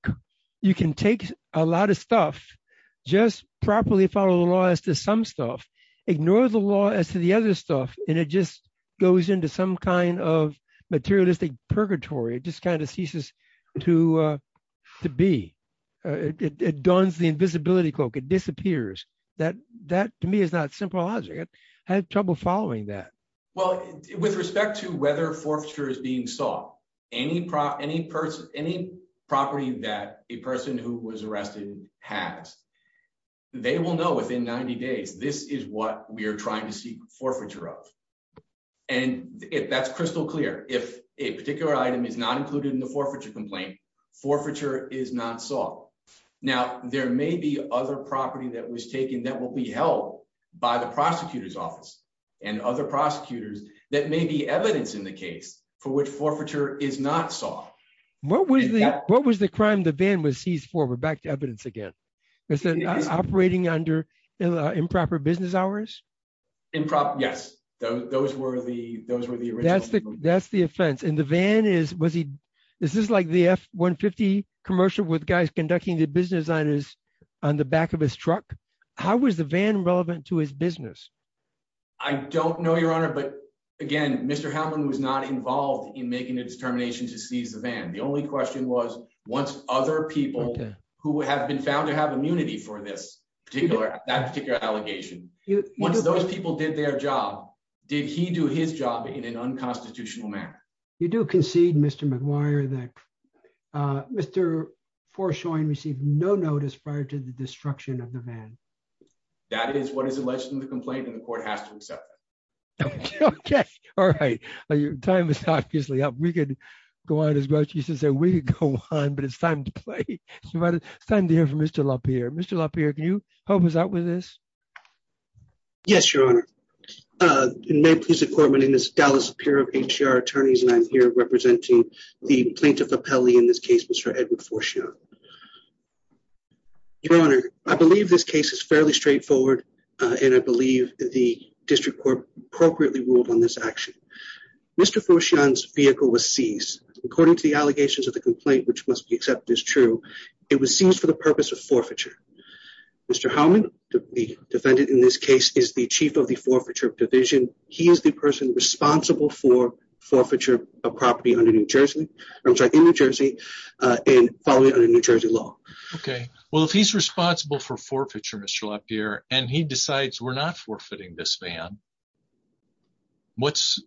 You can take a lot of stuff, just properly follow the law as to some stuff, ignore the law as to the other stuff, and it just goes into some kind of materialistic purgatory just kind of ceases to be. It does the invisibility cloak it disappears that that to me is not simple logic. I had trouble following that. Well, with respect to whether forfeiture is being sought any prop any person, any property that a person who was arrested has. They will know within 90 days. This is what we are trying to see forfeiture of and if that's crystal clear if a particular item is not included in the forfeiture complaint forfeiture is not soft. Now, there may be other property that was taken that will be held by the prosecutor's office and other prosecutors that may be evidence in the case for which forfeiture is not soft. What was the crime the van was he's forward back to evidence again. It's an operating under improper business hours. Improper Yes, those were the those were the that's the that's the offense in the van is was he. This is like the F 150 commercial with guys conducting the business that is on the back of his truck. How was the van relevant to his business. I don't know your honor. But again, Mr Hamlin was not involved in making a determination to seize the van. The only question was once other people who have been found to have immunity for this particular that particular allegation. One of those people did their job. Did he do his job in an unconstitutional manner. You do concede Mr McGuire that Mr for showing received no notice prior to the destruction of the van. That is what is the lesson of the complaint in the courthouse. Okay. All right. Are you time is obviously up we could go on as much as that we go on but it's time to play. Mr. Oh, is that what it is. Yes, your honor. I believe this case is fairly straightforward. And I believe the district court appropriately ruled on this action. Mr for Sean's vehicle was seized, according to the allegations of the complaint which must be accepted as true. It was seized for the purpose of forfeiture. Mr Hamlin, the defendant in this case is the chief of the forfeiture division. He is the person responsible for forfeiture of property on a New Jersey, New Jersey, in New Jersey law. Okay, well if he's responsible for forfeiture Mr up here, and he decides we're not forfeiting this van. What's.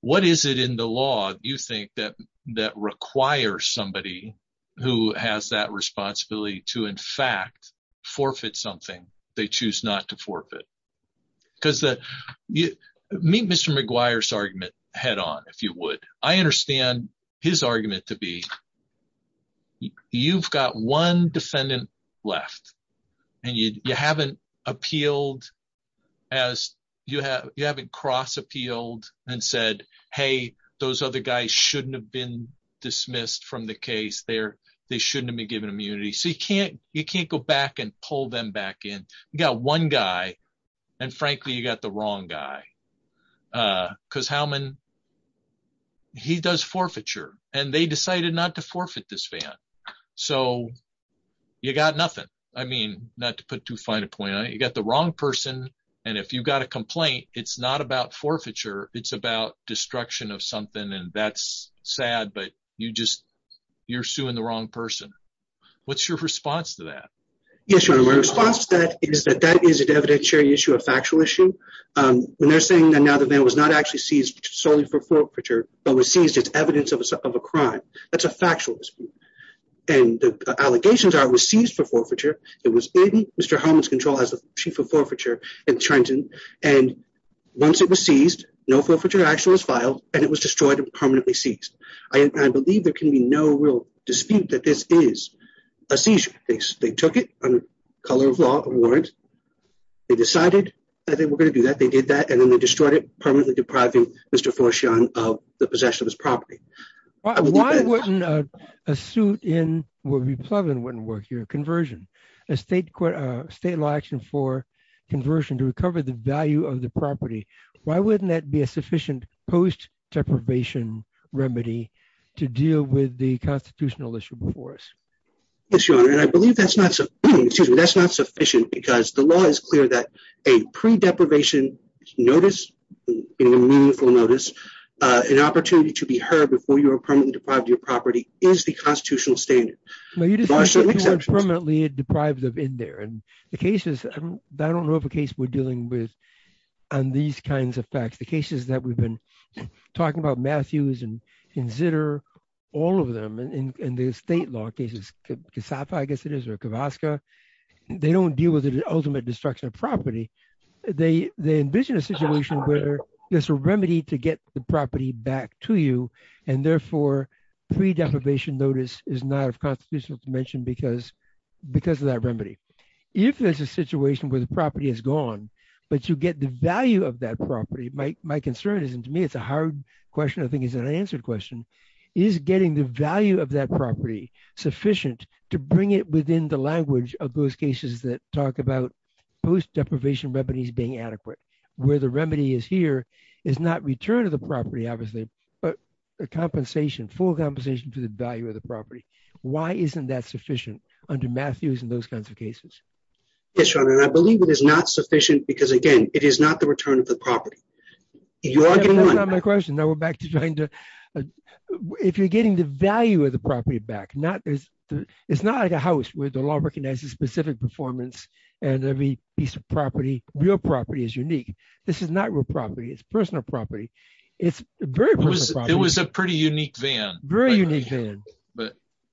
What is it in the law, do you think that that requires somebody who has that responsibility to in fact forfeit something they choose not to forfeit, because that mean Mr McGuire's argument, head on, if you would, I understand his argument to be. You've got one defendant left, and you haven't appealed as you have you haven't cross appealed and said, Hey, those other guys shouldn't have been dismissed from the case there. They shouldn't be given immunity so you can't, you can't go back and pull them back in. You got one guy. And frankly you got the wrong guy. Because how many. He does forfeiture, and they decided not to forfeit this van. So, you got nothing. I mean, not to put too fine a point I got the wrong person. And if you've got a complaint, it's not about forfeiture, it's about destruction of something and that's sad but you just, you're suing the wrong person. What's your response to that. Is that that is an evidentiary issue a factual issue. And they're saying that now that there was not actually seized solely for forfeiture, but was seized as evidence of a crime. That's a factual. And the allegations are received for forfeiture. It was Mr Holmes control as the chief of forfeiture and trying to, and once it was seized, no forfeiture action was filed, and it was destroyed and permanently seats. I believe there can be no real dispute that this is a seizure, they took it on the color of law. They decided that they were going to do that they did that and then they destroyed it permanently depriving Mr for Sean of the possession of his property. Why wasn't a suit in what we plug in wouldn't work your conversion estate court state election for conversion to recover the value of the property. Why wouldn't that be a sufficient post deprivation remedy to deal with the constitutional issue before us. That's not sufficient because the law is clear that a pre deprivation notice for notice, an opportunity to be heard before you are permanently deprived of your property is the constitutional statement. Permanently deprived of in there and the cases. I don't know if a case we're dealing with on these kinds of facts the cases that we've been talking about Matthews and consider all of them in the state law cases. They don't deal with the ultimate destruction of property. They, they envision a situation where there's a remedy to get the property back to you. And therefore, pre deprivation notice is not a constitutional dimension because, because of that remedy. If there's a situation where the property is gone, but you get the value of that property. My, my concern is and to me it's a hard question. I think he's an answered question is getting the value of that property sufficient to bring it within the language of those cases that talk about post deprivation remedies being adequate, where the remedy is here is not return to the property, obviously, but the compensation for compensation to the value of the property. Why isn't that sufficient under Matthews and those kinds of cases. I believe it is not sufficient because again, it is not the return of the property. My question now we're back to trying to. If you're getting the value of the property back not there's, it's not like a house with the law recognizes specific performance, and every piece of property, real property is unique. This is not real property is personal property. It's very, it was a pretty unique van very unique.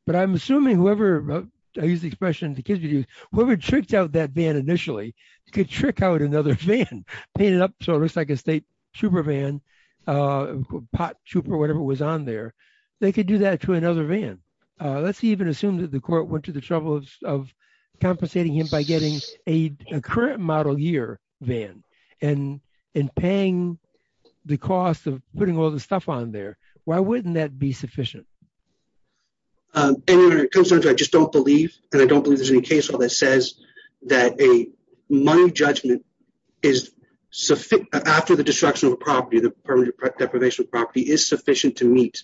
But I'm assuming whoever, I use the expression to kid you, whoever tricked out that van initially could trick out another fan painted up so it looks like a state trooper van pot trooper whatever was on there. They could do that to another van. Let's even assume that the court went to the trouble of compensating him by getting a current model year van and in paying the cost of putting all this stuff on there. Why wouldn't that be sufficient. I just don't believe, and I don't believe there's any case where that says that a money judgment is sufficient after the destruction of a property that deprivation property is sufficient to meet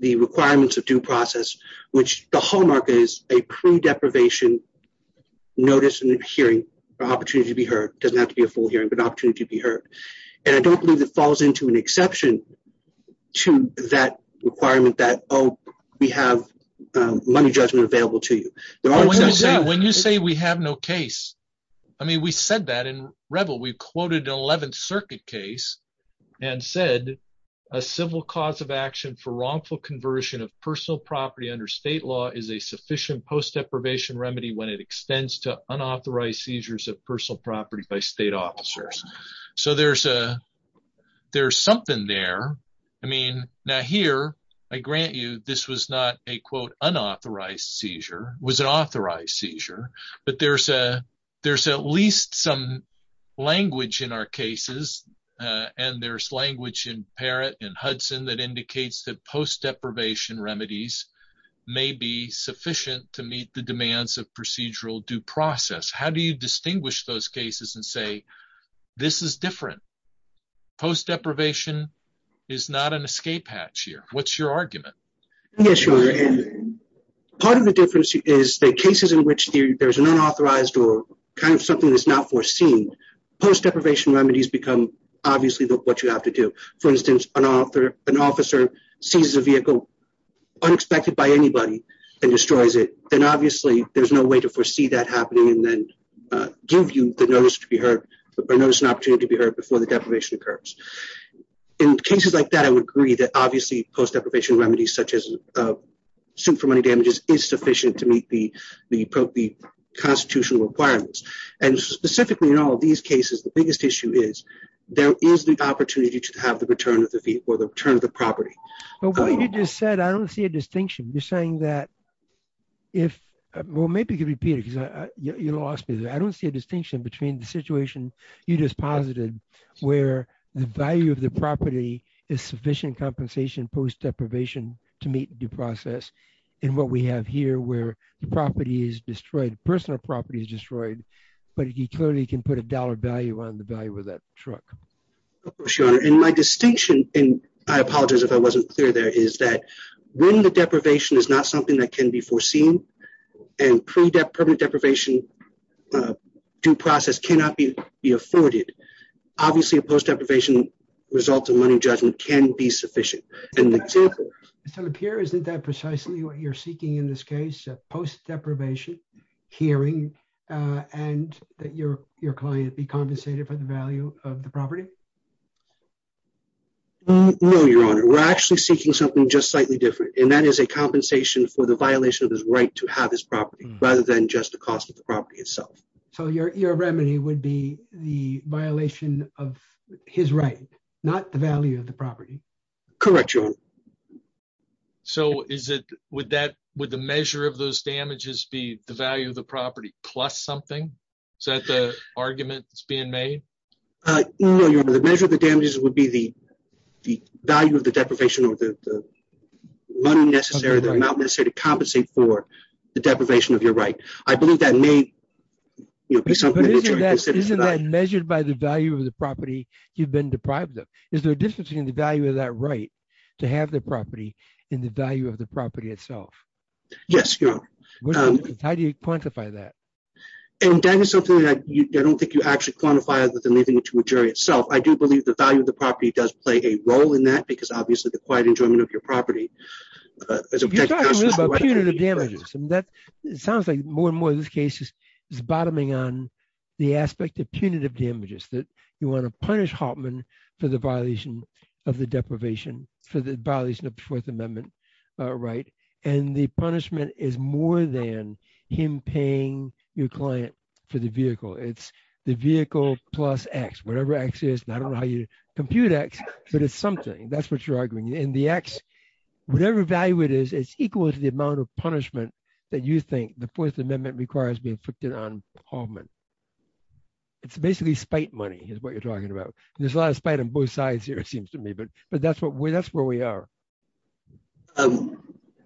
the requirements of due process, which the hallmark is a pre deprivation. Notice in the hearing opportunity to be heard, doesn't have to be a full year but opportunity to be heard. And I don't believe it falls into an exception to that requirement that, oh, we have money judgment available to you. When you say we have no case. I mean we said that in rebel we quoted 11th Circuit case and said a civil cause of action for wrongful conversion of personal property under state law is a sufficient post deprivation remedy when it extends to unauthorized seizures of personal property by state officers. So there's a there's something there. I mean, now here I grant you this was not a quote unauthorized seizure was an authorized seizure, but there's a there's at least some language in our cases. And there's language in parent in Hudson that indicates that post deprivation remedies may be sufficient to meet the demands of procedural due process. How do you distinguish those cases and say this is different post deprivation is not an escape hatch here. What's your argument. Part of the difference is the cases in which there's an unauthorized or kind of something that's not foreseen post deprivation remedies become obviously what you have to do. For instance, an officer sees a vehicle unexpected by anybody and destroys it. And obviously, there's no way to foresee that happening and then give you the notice to be heard. Before the deprivation occurs in cases like that, I would agree that obviously post deprivation remedies, such as a suit for money damages is sufficient to meet the appropriate constitutional requirements. And specifically in all of these cases, the biggest issue is there is the opportunity to have the return of the feet for the return of the property. Okay, you just said, I don't see a distinction. You're saying that if we'll make you repeat it, you lost me. I don't see a distinction between the situation you just posited where the value of the property is sufficient compensation post deprivation to meet due process. And what we have here where the property is destroyed personal property is destroyed, but he clearly can put a dollar value on the value of that truck. And my distinction, and I apologize if I wasn't clear, there is that when the deprivation is not something that can be foreseen and pre deprivation due process cannot be afforded. And that is a compensation for the violation of his right to have his property, rather than just the cost of the property itself. So, your remedy would be the violation of his right to have his property. Not the value of the property. Correct. So, is it with that with the measure of those damages the value of the property, plus something. So that's an argument that's being made. The measure of the damages would be the value of the deprivation of the necessary they're not going to compensate for the deprivation of your right. I believe that may be something. Measured by the value of the property, you've been deprived them, is there a difference in the value of that right to have the property in the value of the property itself. Yes. How do you quantify that. And that is something that you don't think you actually quantify with anything to a jury itself I do believe the value of the property does play a role in that because obviously the quiet enjoyment of your property. The damages and that sounds like more and more in this case is bottoming on the aspect of punitive damages that you want to punish Hoffman for the violation of the deprivation for the violation of the Fourth Amendment. Right. And the punishment is more than him paying your client for the vehicle it's the vehicle plus x whatever x is not only how you compute x, but it's something that's what you're arguing in the x. Whatever value it is it's equal to the amount of punishment that you think the Fourth Amendment requires me to put it on. It's basically spite money is what you're talking about. There's a lot of spite on both sides here it seems to me but but that's what we that's where we are.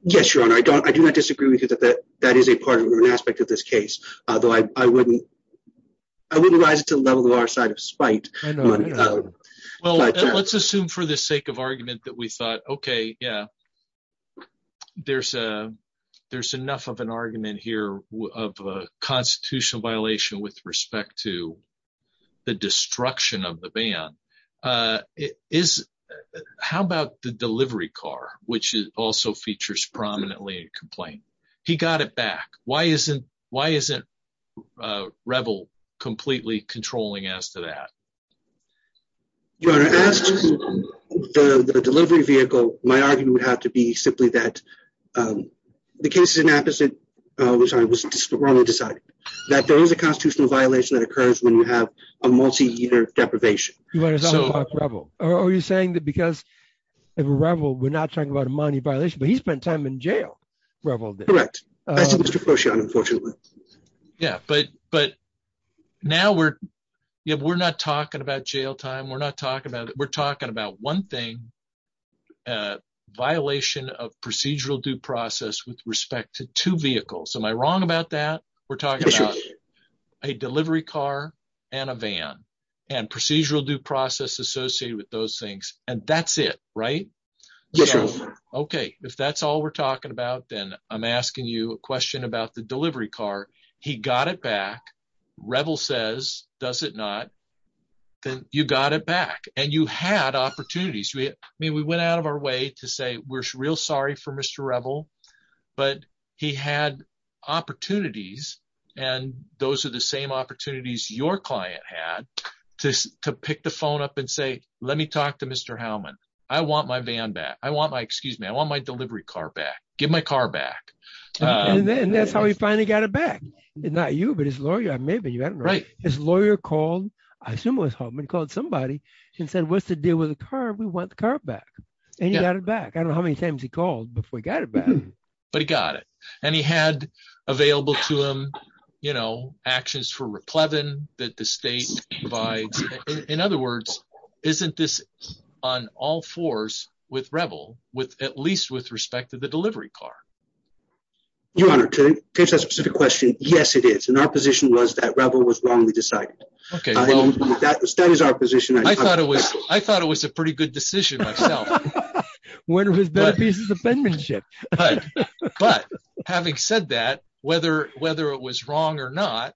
Yes, your honor I don't I do not disagree with you that that that is a part of an aspect of this case, although I wouldn't. I wouldn't like to level our side of spite. Well, let's assume for the sake of argument that we thought okay yeah. There's a there's enough of an argument here of a constitutional violation with respect to the destruction of the band is how about the delivery car, which is also features prominently complaint. He got it back. Why isn't, why isn't rebel completely controlling as to that. Your delivery vehicle, my argument would have to be simply that the case is an opposite, which I was wrong to decide that there is a constitutional violation that occurs when you have a multi year deprivation. Are you saying that because of rebel we're not talking about money violation but he spent time in jail. Correct. Yeah, but, but now we're, we're not talking about jail time we're not talking about it we're talking about one thing. Violation of procedural due process with respect to two vehicles am I wrong about that. We're talking about a delivery car, and a van and procedural due process associated with those things, and that's it. Right. Okay, if that's all we're talking about, then I'm asking you a question about the delivery car. He got it back rebel says, does it not. You got it back, and you had opportunities we mean we went out of our way to say we're real sorry for Mr rebel, but he had opportunities. And those are the same opportunities your client had to pick the phone up and say, let me talk to Mr Hellman, I want my band that I want my excuse me I want my delivery car back, get my car back. And that's how we finally got it back. It's not you but his lawyer, maybe you haven't read his lawyer called someone's home and called somebody said what's the deal with the car we want the car back. And you got it back I don't know how many times he called before he got it. I got it. And he had available to him, you know, actions for replacement that the state by. In other words, isn't this on all fours with rebel with at least with respect to the delivery car. Yes, it is in our position was that rebel was wrong we decided. Okay, that was that was our position I thought it was, I thought it was a pretty good decision. What was the penmanship. But having said that, whether, whether it was wrong or not.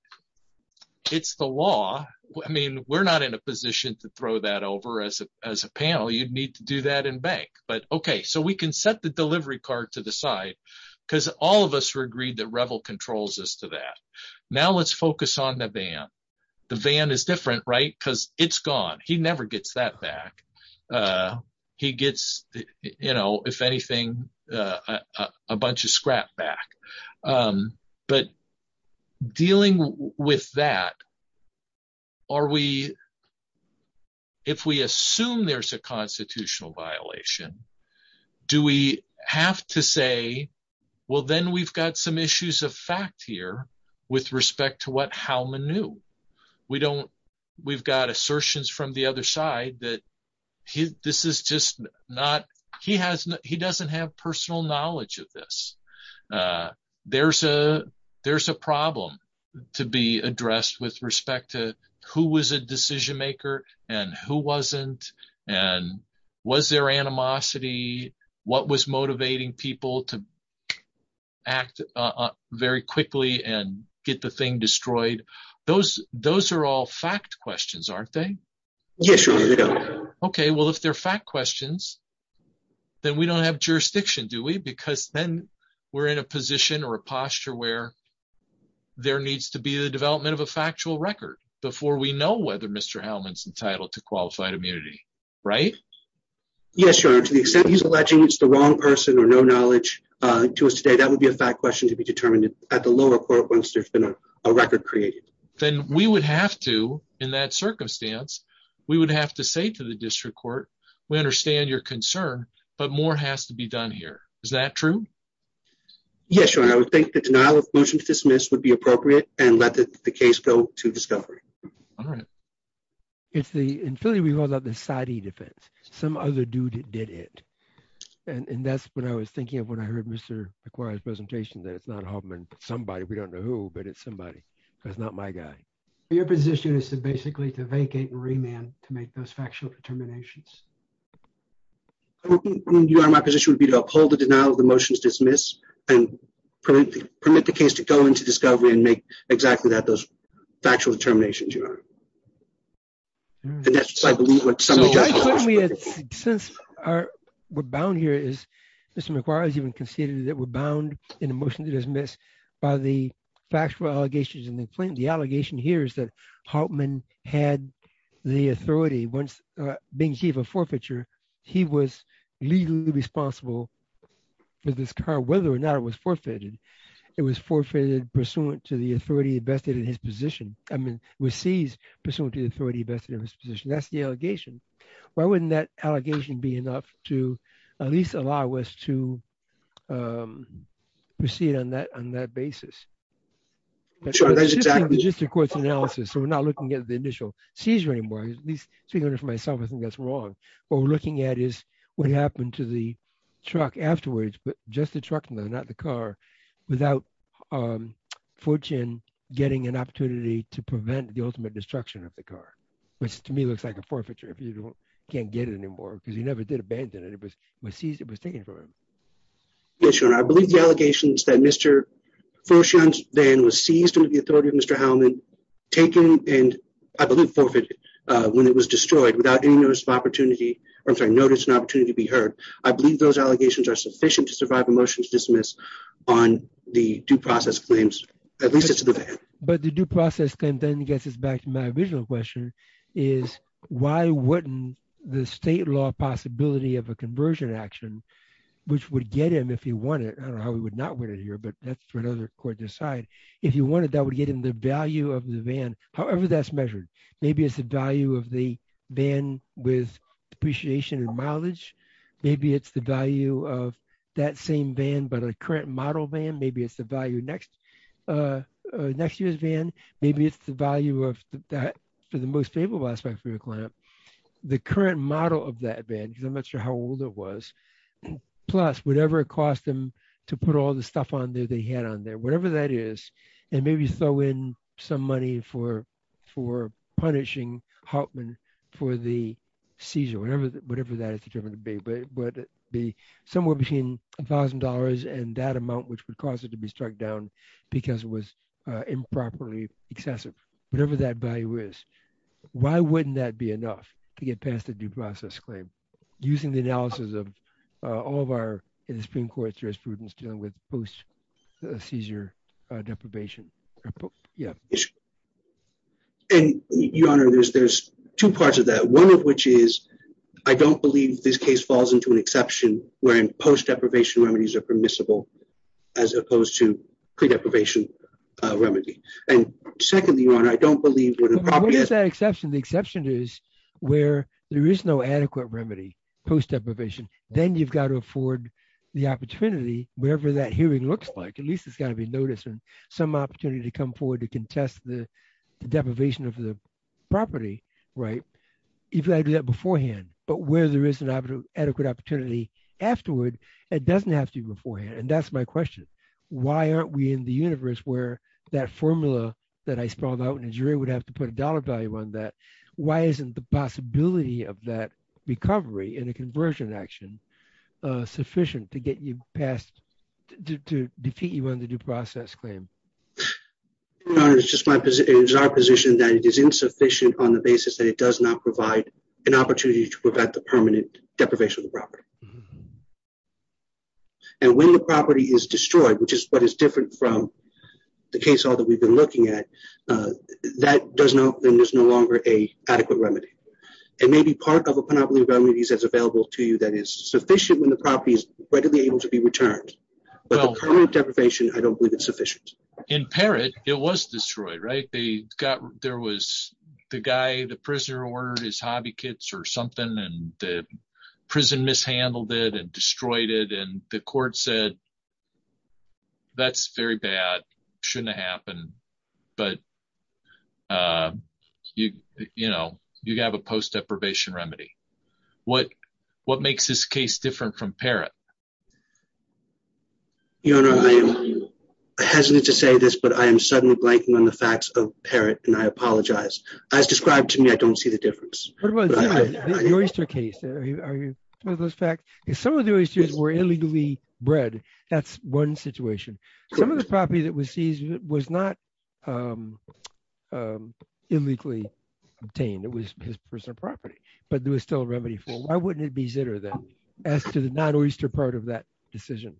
It's the law. I mean, we're not in a position to throw that over as a, as a panel you'd need to do that in bank but okay so we can set the delivery card to the side, because all of us are agreed that rebel controls us to that. Now let's focus on the van. The van is different right because it's gone, he never gets that back. He gets, you know, if anything, a bunch of scrap back. But dealing with that. Are we. If we assume there's a constitutional violation. Do we have to say, well, then we've got some issues of fact here with respect to what how many new we don't. We've got assertions from the other side that this is just not, he has, he doesn't have personal knowledge of this. There's a, there's a problem to be addressed with respect to who was a decision maker, and who wasn't. And was there animosity. What was motivating people to act very quickly and get the thing destroyed those, those are all fact questions aren't they. Okay, well if they're fact questions that we don't have jurisdiction do we because then we're in a position or a posture where there needs to be the development of a factual record before we know whether Mr Hellman's entitled to qualified immunity. Right. Yes, sure. To the extent he's alleging it's the wrong person or no knowledge to us today that would be a fact question to be determined at the lower court once there's been a record created, then we would have to in that circumstance. We would have to say to the district court, we understand your concern, but more has to be done here. Is that true. Yes, sure. I would think the denial of motion to dismiss would be appropriate and let the case go to discovery. It's the inside the defense. Some other dude did it. And that's what I was thinking of when I heard Mr. presentation that somebody we don't know who, but it's somebody that's not my guy. Your position is basically to vacate remand to make those factual determinations. My position would be to uphold the denial of the motions dismissed and permit the case to go into discovery and make exactly that those factual determinations. And that's, I believe, what we're bound here is Mr. He was legally responsible for this car, whether or not it was forfeited. It was forfeited pursuant to the authority vested in his position. I mean, we seized pursuant to the authority vested in his position. That's the allegation. Why wouldn't that allegation be enough to at least allow us to proceed on that on that basis. Sure, that's exactly just the court's analysis. So we're not looking at the initial seizure anymore. Figuring it for myself. I think that's wrong. What we're looking at is what happened to the truck afterwards. But just the truck, not the car without fortune getting an opportunity to prevent the ultimate destruction of the car, which to me looks like a forfeiture. Can't get it anymore because you never did abandon it. It was seized. It was taken from him. Yes, sure. And I believe the allegations that Mr. Then was seized with the authority of Mr. Taken and I believe forfeited when it was destroyed without any notice of opportunity or notice an opportunity to be heard. I believe those allegations are sufficient to survive a motion to dismiss on the due process claims. But the due process then gets us back to my original question is why wouldn't the state law possibility of a conversion action. Which would get him if he wanted. I would not want to hear, but that's for another court to decide if you wanted that would get in the value of the van. However, that's measured. Maybe it's the value of the van with depreciation and mileage. Maybe it's the value of that same van, but a current model van. Maybe it's the value next. Next year's van. Maybe it's the value of that for the most stable aspects of the client. The current model of that van. I'm not sure how old it was. Plus, whatever it cost them to put all the stuff on there. They had on there, whatever that is, and maybe throw in some money for punishing Hartman for the seizure, whatever that is determined to be. But somewhere between $1000 and that amount, which would cause it to be struck down because it was improperly excessive. Whatever that value is. Why wouldn't that be enough to get past the due process claim using the analysis of all of our Supreme Court jurisprudence dealing with post seizure deprivation? Your Honor, there's two parts of that. One of which is, I don't believe this case falls into an exception when post deprivation remedies are permissible as opposed to pre-deprivation remedy. What is that exception? The exception is where there is no adequate remedy post deprivation. Then you've got to afford the opportunity, wherever that hearing looks like. At least it's got to be noticed and some opportunity to come forward to contest the deprivation of the property. You've got to do that beforehand. But where there is an adequate opportunity afterward, it doesn't have to be beforehand. That's my question. Why aren't we in the universe where that formula that I spelled out in the jury would have to put a dollar value on that? Why isn't the possibility of that recovery in a conversion action sufficient to defeat you on the due process claim? Your Honor, it is our position that it is insufficient on the basis that it does not provide an opportunity to prevent the permanent deprivation of the property. And when the property is destroyed, which is what is different from the case that we've been looking at, then there's no longer an adequate remedy. It may be part of a property that is available to you that is sufficient when the property is readily able to be returned. But permanent deprivation, I don't believe is sufficient. In Parrott, it was destroyed, right? There was the guy, the prisoner ordered his hobby kits or something, and the prison mishandled it and destroyed it. And the court said, that's very bad. It shouldn't have happened. But you have a post-deprivation remedy. What makes this case different from Parrott? Your Honor, I am hesitant to say this, but I am suddenly blanking on the facts of Parrott, and I apologize. As described to me, I don't see the difference. What about Zitter, the oyster case? Are you aware of those facts? If some of the oysters were illegally bred, that's one situation. Some of the property that was seized was not illegally obtained. It was his personal property, but there was still a remedy for it. Why wouldn't it be Zitter then, as to the not-oyster part of that decision?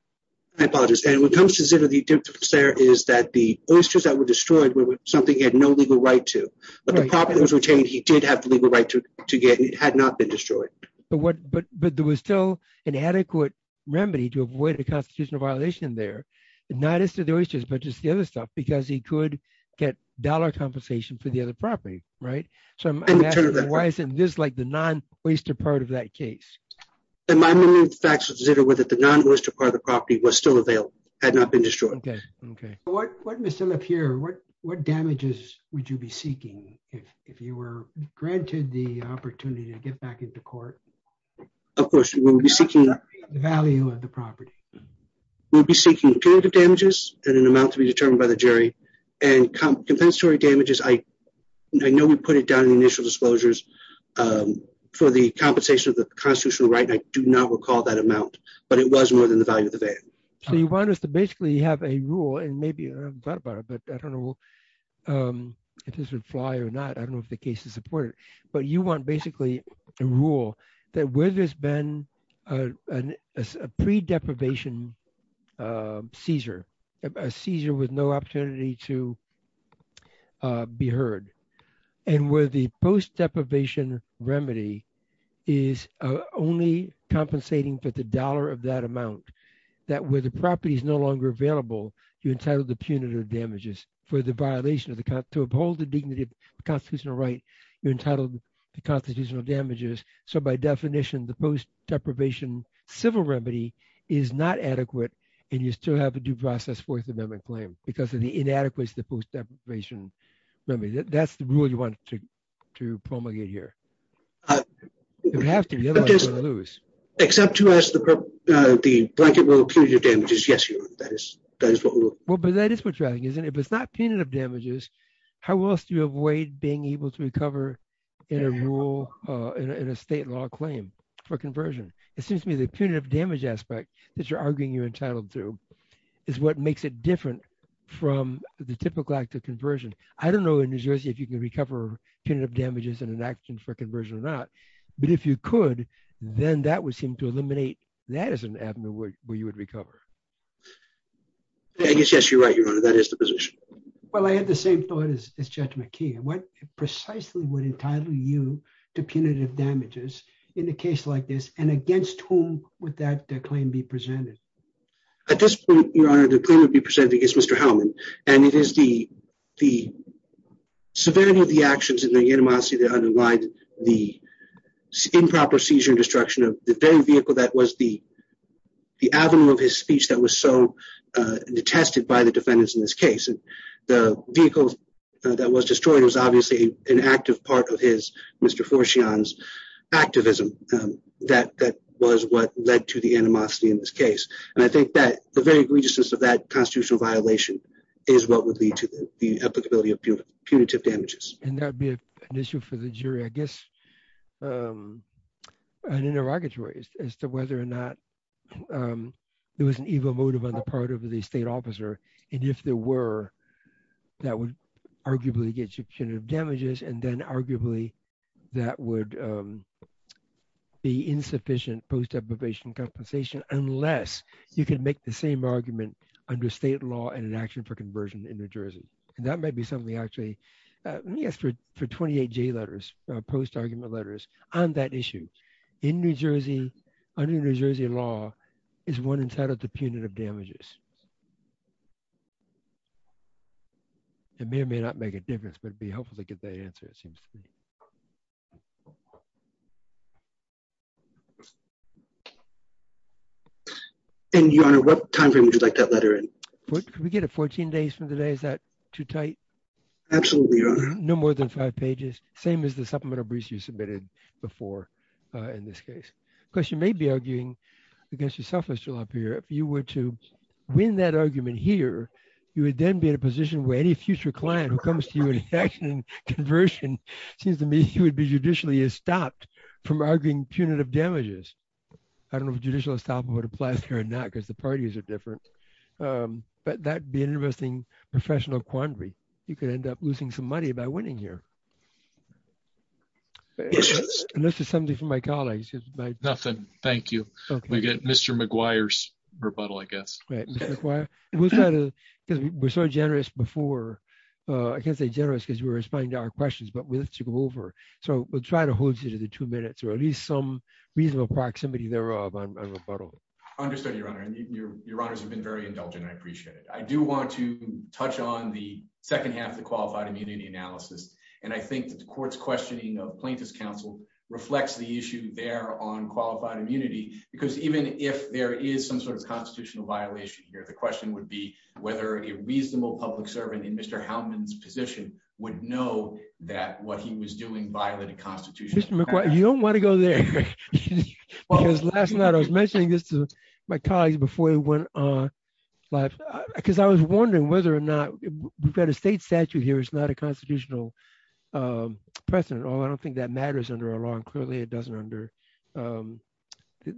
I apologize, Dan. When it comes to Zitter, the difference there is that the oysters that were destroyed were something he had no legal right to. But the property was retained, he did have the legal right to get, and it had not been destroyed. But there was still an adequate remedy to avoid a constitutional violation there. Not as to the oysters, but just the other stuff, because he could get dollar compensation for the other property, right? So I'm asking, why isn't this like the non-oyster part of that case? My memory of the facts of Zitter were that the non-oyster part of the property was still available. It had not been destroyed. What damages would you be seeking if you were granted the opportunity to get back into court? Of course, we would be seeking... The value of the property. We would be seeking alternative damages and an amount to be determined by the jury. And compensatory damages, I know we put it down in initial disclosures for the compensation of the constitutional right, and I do not recall that amount. But it was more than the value of the value. So you want us to basically have a rule, and maybe I haven't thought about it, but I don't know if this would fly or not. I don't know if the case is supported. But you want basically a rule that where there's been a pre-deprivation seizure, a seizure with no opportunity to be heard, and where the post-deprivation remedy is only compensating for the dollar of that amount. That where the property is no longer available, you're entitled to punitive damages for the violation of the constitutional right. You're entitled to constitutional damages. So by definition, the post-deprivation civil remedy is not adequate, and you still have a due process Fourth Amendment claim because of the inadequacy of the post-deprivation remedy. That's the rule you want to promulgate here. It has to be, otherwise you're going to lose. Except to ask the blanket rule punitive damages, yes, you would. That is what we would. Well, but that is what you're asking, isn't it? If it's not punitive damages, how else do you avoid being able to recover in a state law claim for conversion? It seems to me the punitive damage aspect that you're arguing you're entitled to is what makes it different from the typical act of conversion. I don't know in New Jersey if you can recover punitive damages in an action for conversion or not, but if you could, then that would seem to eliminate that as an avenue where you would recover. I guess, yes, you're right, Your Honor. That is the position. Well, I had the same thought as Judge McKee. What precisely would entitle you to punitive damages in a case like this, and against whom would that claim be presented? At this point, Your Honor, the claim would be presented against Mr. Hellman, and it is the severity of the actions and the animosity that underlines the improper seizure and destruction of the very vehicle that was the avenue of his speech that was so detested by the defendants in this case. The vehicle that was destroyed was obviously an active part of Mr. Forshean's activism. That was what led to the animosity in this case, and I think that the very egregiousness of that constitutional violation is what would lead to the applicability of punitive damages. And that would be an issue for the jury, I guess, and interrogatory as to whether or not there was an evil motive on the part of the state officer, and if there were, that would arguably get you punitive damages, and then arguably that would be insufficient post-application compensation unless you can make the same argument under state law and an action for conversion in New Jersey. And that may be something, actually. Let me ask for 28 J letters, post-argument letters, on that issue. In New Jersey, under New Jersey law, is one entitled to punitive damages? It may or may not make a difference, but it would be helpful to get that answer, it seems to me. And Your Honor, what timeframe would you like that letter in? Can we get it 14 days from today? Is that too tight? Absolutely, Your Honor. No more than five pages, same as the supplemental briefs you submitted before in this case. Of course, you may be arguing against yourself, Mr. LaPierre. If you were to win that argument here, you would then be in a position where any future client who comes to you in an action for conversion seems to me he would be judicially stopped from arguing punitive damages. I don't know if judicial stop would apply here or not, because the parties are different. But that would be an interesting professional quandary. You could end up losing some money by winning here. And this is something from my colleagues. Nothing, thank you. We get Mr. McGuire's rebuttal, I guess. We're so generous before. I can't say generous because we're responding to our questions, but we have to go over. So we'll try to hold you to the two minutes or at least some reasonable proximity thereof on the rebuttal. Understood, Your Honor. Your Honors have been very indulgent. I appreciate it. I do want to touch on the second half of the qualified immunity analysis. And I think the court's questioning of plaintiff's counsel reflects the issue there on qualified immunity, because even if there is some sort of constitutional violation here, the question would be whether a reasonable public servant in Mr. McGuire, you don't want to go there. Last night I was mentioning this to my colleagues before we went on live, because I was wondering whether or not we've got a state statute here. It's not a constitutional precedent. I don't think that matters under our law. Clearly, it doesn't under the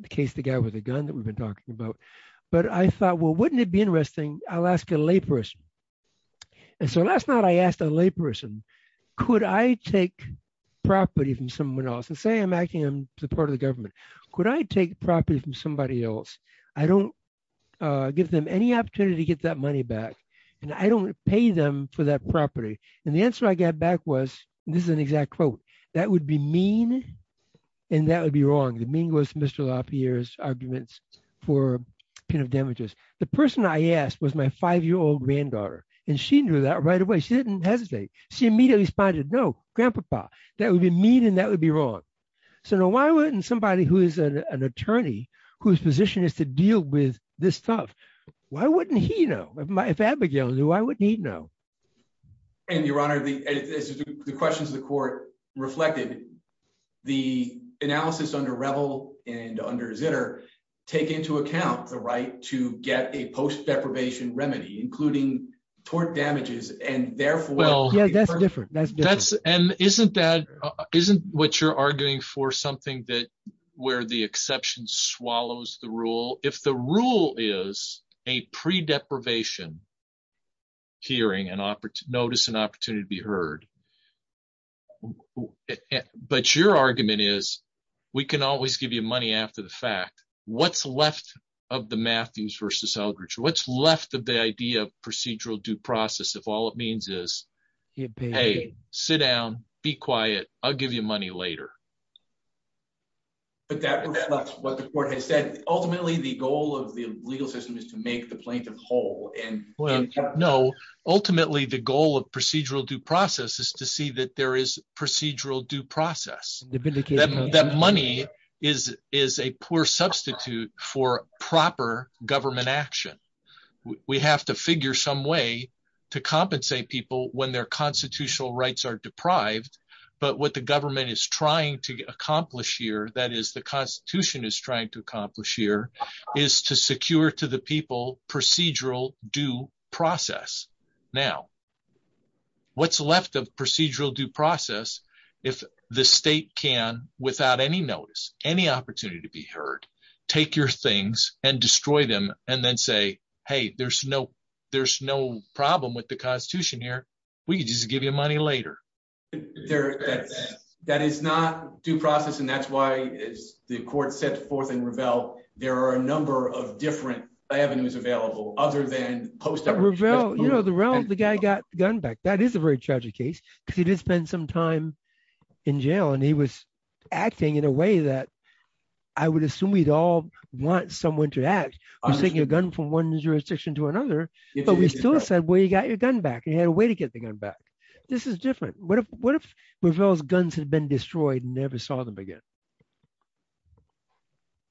case together with a gun that we've been talking about. But I thought, well, wouldn't it be interesting? I'll ask a layperson. So last night I asked a layperson, could I take property from someone else? Let's say I'm acting on the part of the government. Could I take property from somebody else? I don't give them any opportunity to get that money back, and I don't pay them for that property. And the answer I got back was, this is an exact quote, that would be mean and that would be wrong. The mean goes to Mr. Lafayette's arguments for damages. The person I asked was my five-year-old granddaughter, and she knew that right away. She didn't hesitate. She immediately responded, no, Grandpa, that would be mean and that would be wrong. So why wouldn't somebody who is an attorney whose position is to deal with this stuff, why wouldn't he know? If Abigail was here, why wouldn't he know? And, Your Honor, the question to the court reflected the analysis under Revel and under Zitter take into account the right to get a post-deprivation remedy, including tort damages, and therefore Yeah, that's different. Isn't what you're arguing for something where the exception swallows the rule? If the rule is a pre-deprivation hearing, notice an opportunity to be heard, but your argument is, we can always give you money after the fact. What's left of the Matthews versus Eldridge? What's left of the idea of procedural due process if all it means is, hey, sit down, be quiet, I'll give you money later? Ultimately, the goal of the legal system is to make the plaintiff whole. No, ultimately, the goal of procedural due process is to see that there is procedural due process. That money is a poor substitute for proper government action. We have to figure some way to compensate people when their constitutional rights are deprived, but what the government is trying to accomplish here, that is, the Constitution is trying to accomplish here, is to secure to the people procedural due process. Now, what's left of procedural due process if the state can, without any notice, any opportunity to be heard, take your things and destroy them and then say, hey, there's no problem with the Constitution here. We can just give you money later. That is not due process, and that's why the court sets forth in Revelle. There are a number of different avenues available other than post-deprivation. The guy got the gun back. That is a very tragic case because he did spend some time in jail, and he was acting in a way that I would assume we'd all want someone to act. I'm taking a gun from one jurisdiction to another, but we still said, well, you got your gun back. You had a way to get the gun back. This is different. What if Revelle's guns had been destroyed and never saw them again?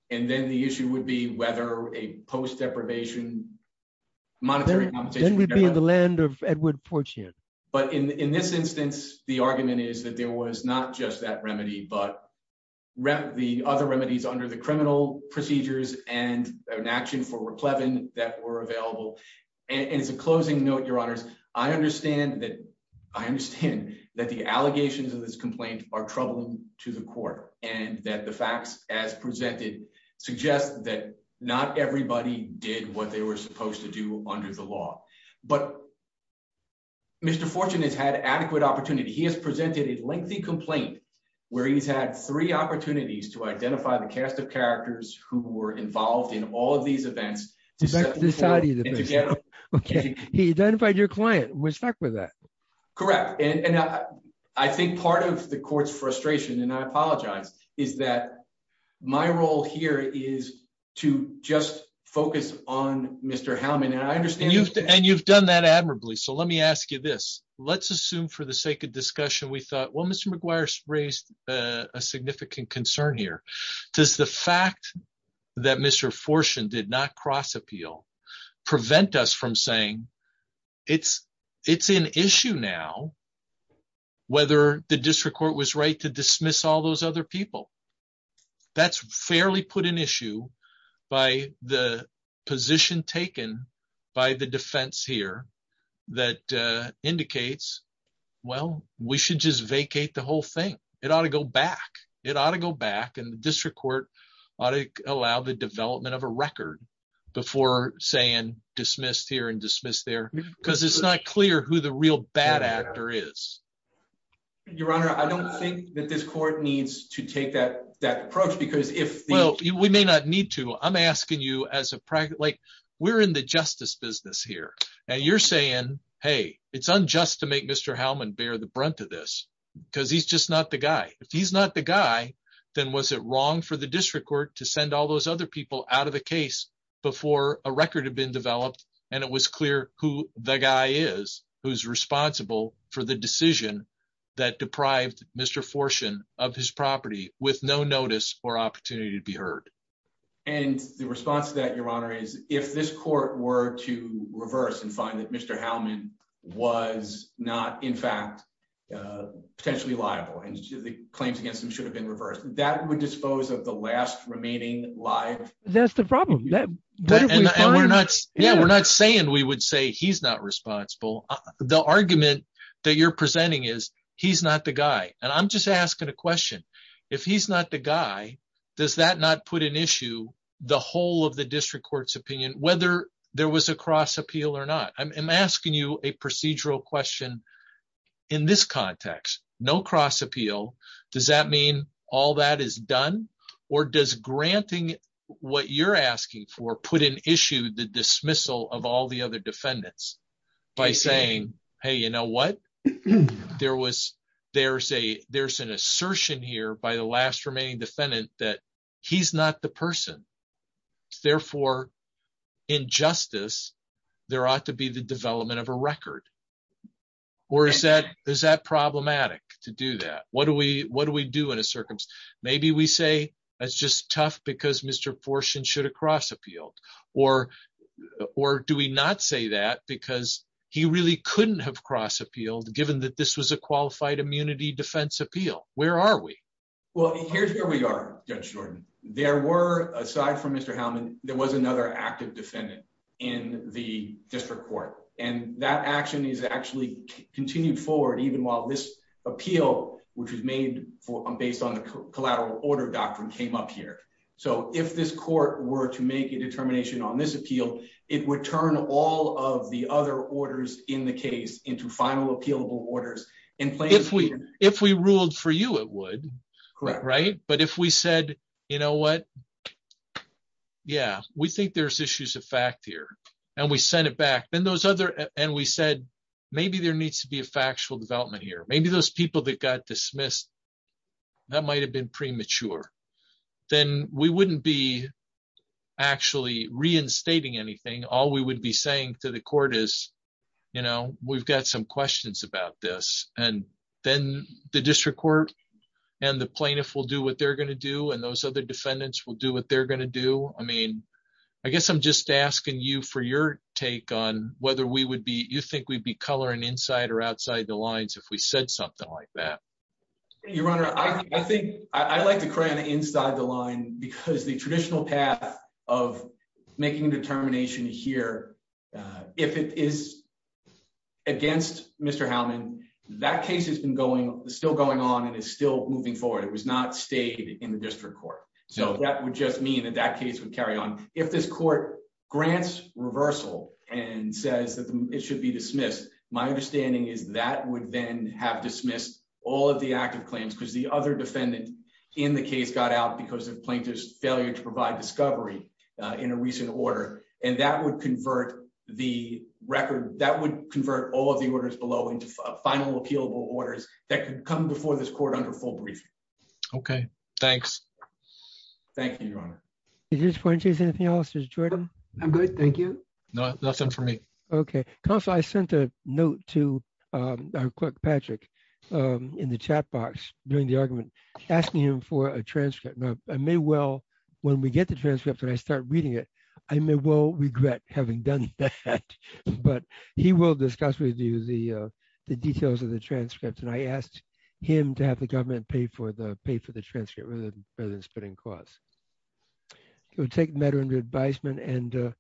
And then the issue would be whether a post-deprivation monetary compensation would be available. Then we'd be in the land of Edward Fortune. But in this instance, the argument is that there was not just that remedy, but the other remedies under the criminal procedures and an action for reclaiming that were available. And as a closing note, Your Honors, I understand that the allegations of this complaint are troubling to the court and that the facts as presented suggest that not everybody did what they were supposed to do under the law. But Mr. Fortune has had adequate opportunity. He has presented a lengthy complaint where he's had three opportunities to identify the cast of characters who were involved in all of these events. He identified your client. Respect for that. Correct. And I think part of the court's frustration, and I apologize, is that my role here is to just focus on Mr. Hellman. And I understand. And you've done that admirably. So let me ask you this. Let's assume for the sake of discussion, we thought, well, Mr. McGuire raised a significant concern here. Does the fact that Mr. Fortune did not cross-appeal prevent us from saying it's an issue now whether the district court was right to dismiss all those other people? That's fairly put an issue by the position taken by the defense here that indicates, well, we should just vacate the whole thing. It ought to go back. It ought to go back, and the district court ought to allow the development of a record before saying dismissed here and dismissed there because it's not clear who the real bad actor is. Your Honor, I don't think that this court needs to take that approach. Well, we may not need to. I'm asking you as a practice. We're in the justice business here, and you're saying, hey, it's unjust to make Mr. Hellman bear the brunt of this because he's just not the guy. If he's not the guy, then was it wrong for the district court to send all those other people out of the case before a record had been developed and it was clear who the guy is who's responsible for the decision that deprived Mr. Fortune of his property with no notice or opportunity to be heard? And the response to that, Your Honor, is if this court were to reverse and find that Mr. Hellman was not, in fact, potentially liable and the claims against him should have been reversed, that would dispose of the last remaining liability? That's the problem. And we're not saying we would say he's not responsible. The argument that you're presenting is he's not the guy. And I'm just asking a question. If he's not the guy, does that not put an issue, the whole of the district court's opinion, whether there was a cross appeal or not? I'm asking you a procedural question in this context. Does that mean all that is done? Or does granting what you're asking for put in issue the dismissal of all the other defendants by saying, hey, you know what, there's an assertion here by the last remaining defendant that he's not the person. Therefore, in justice, there ought to be the development of a record. Or is that problematic to do that? What do we do in a circumstance? Maybe we say that's just tough because Mr. Forshen should have cross appealed. Or do we not say that because he really couldn't have cross appealed given that this was a qualified immunity defense appeal? Where are we? Well, here's where we are, Judge Jordan. There were, aside from Mr. Hellman, there was another active defendant in the district court. And that action is actually continued forward even while this appeal, which was made based on the collateral order doctrine, came up here. So if this court were to make a determination on this appeal, it would turn all of the other orders in the case into final appealable orders. If we ruled for you, it would. Correct. Right? But if we said, you know what, yeah, we think there's issues of fact here. And we sent it back. And we said, maybe there needs to be a factual development here. Maybe those people that got dismissed, that might have been premature. Then we wouldn't be actually reinstating anything. All we would be saying to the court is, you know, we've got some questions about this. And then the district court and the plaintiff will do what they're going to do. And those other defendants will do what they're going to do. I mean, I guess I'm just asking you for your take on whether we would be you think we'd be coloring inside or outside the lines if we said something like that. Your Honor, I think I like to cry on the inside of the line because the traditional path of making determination here, if it is against Mr. Hellman, that case has been going still going on and is still moving forward. It was not stated in the district court. So that would just mean that that case would carry on. If this court grants reversal and says that it should be dismissed, my understanding is that would then have dismissed all of the active claims because the other defendant in the case got out because the plaintiff's failure to provide discovery in a recent order. And that would convert the record, that would convert all of the orders below into final appealable orders that could come before this court under full briefing. Okay, thanks. Thank you, Your Honor. Is this pointing to anything else? Is it Jordan? I'm good, thank you. No, nothing for me. Okay. Counselor, I sent a note to our clerk, Patrick, in the chat box during the argument asking him for a transcript. I may well, when we get the transcripts and I start reading it, I may well regret having done that. But he will discuss with you the details of the transcripts. And I asked him to have the government pay for the transcript rather than spending costs. It would take matter under advisement.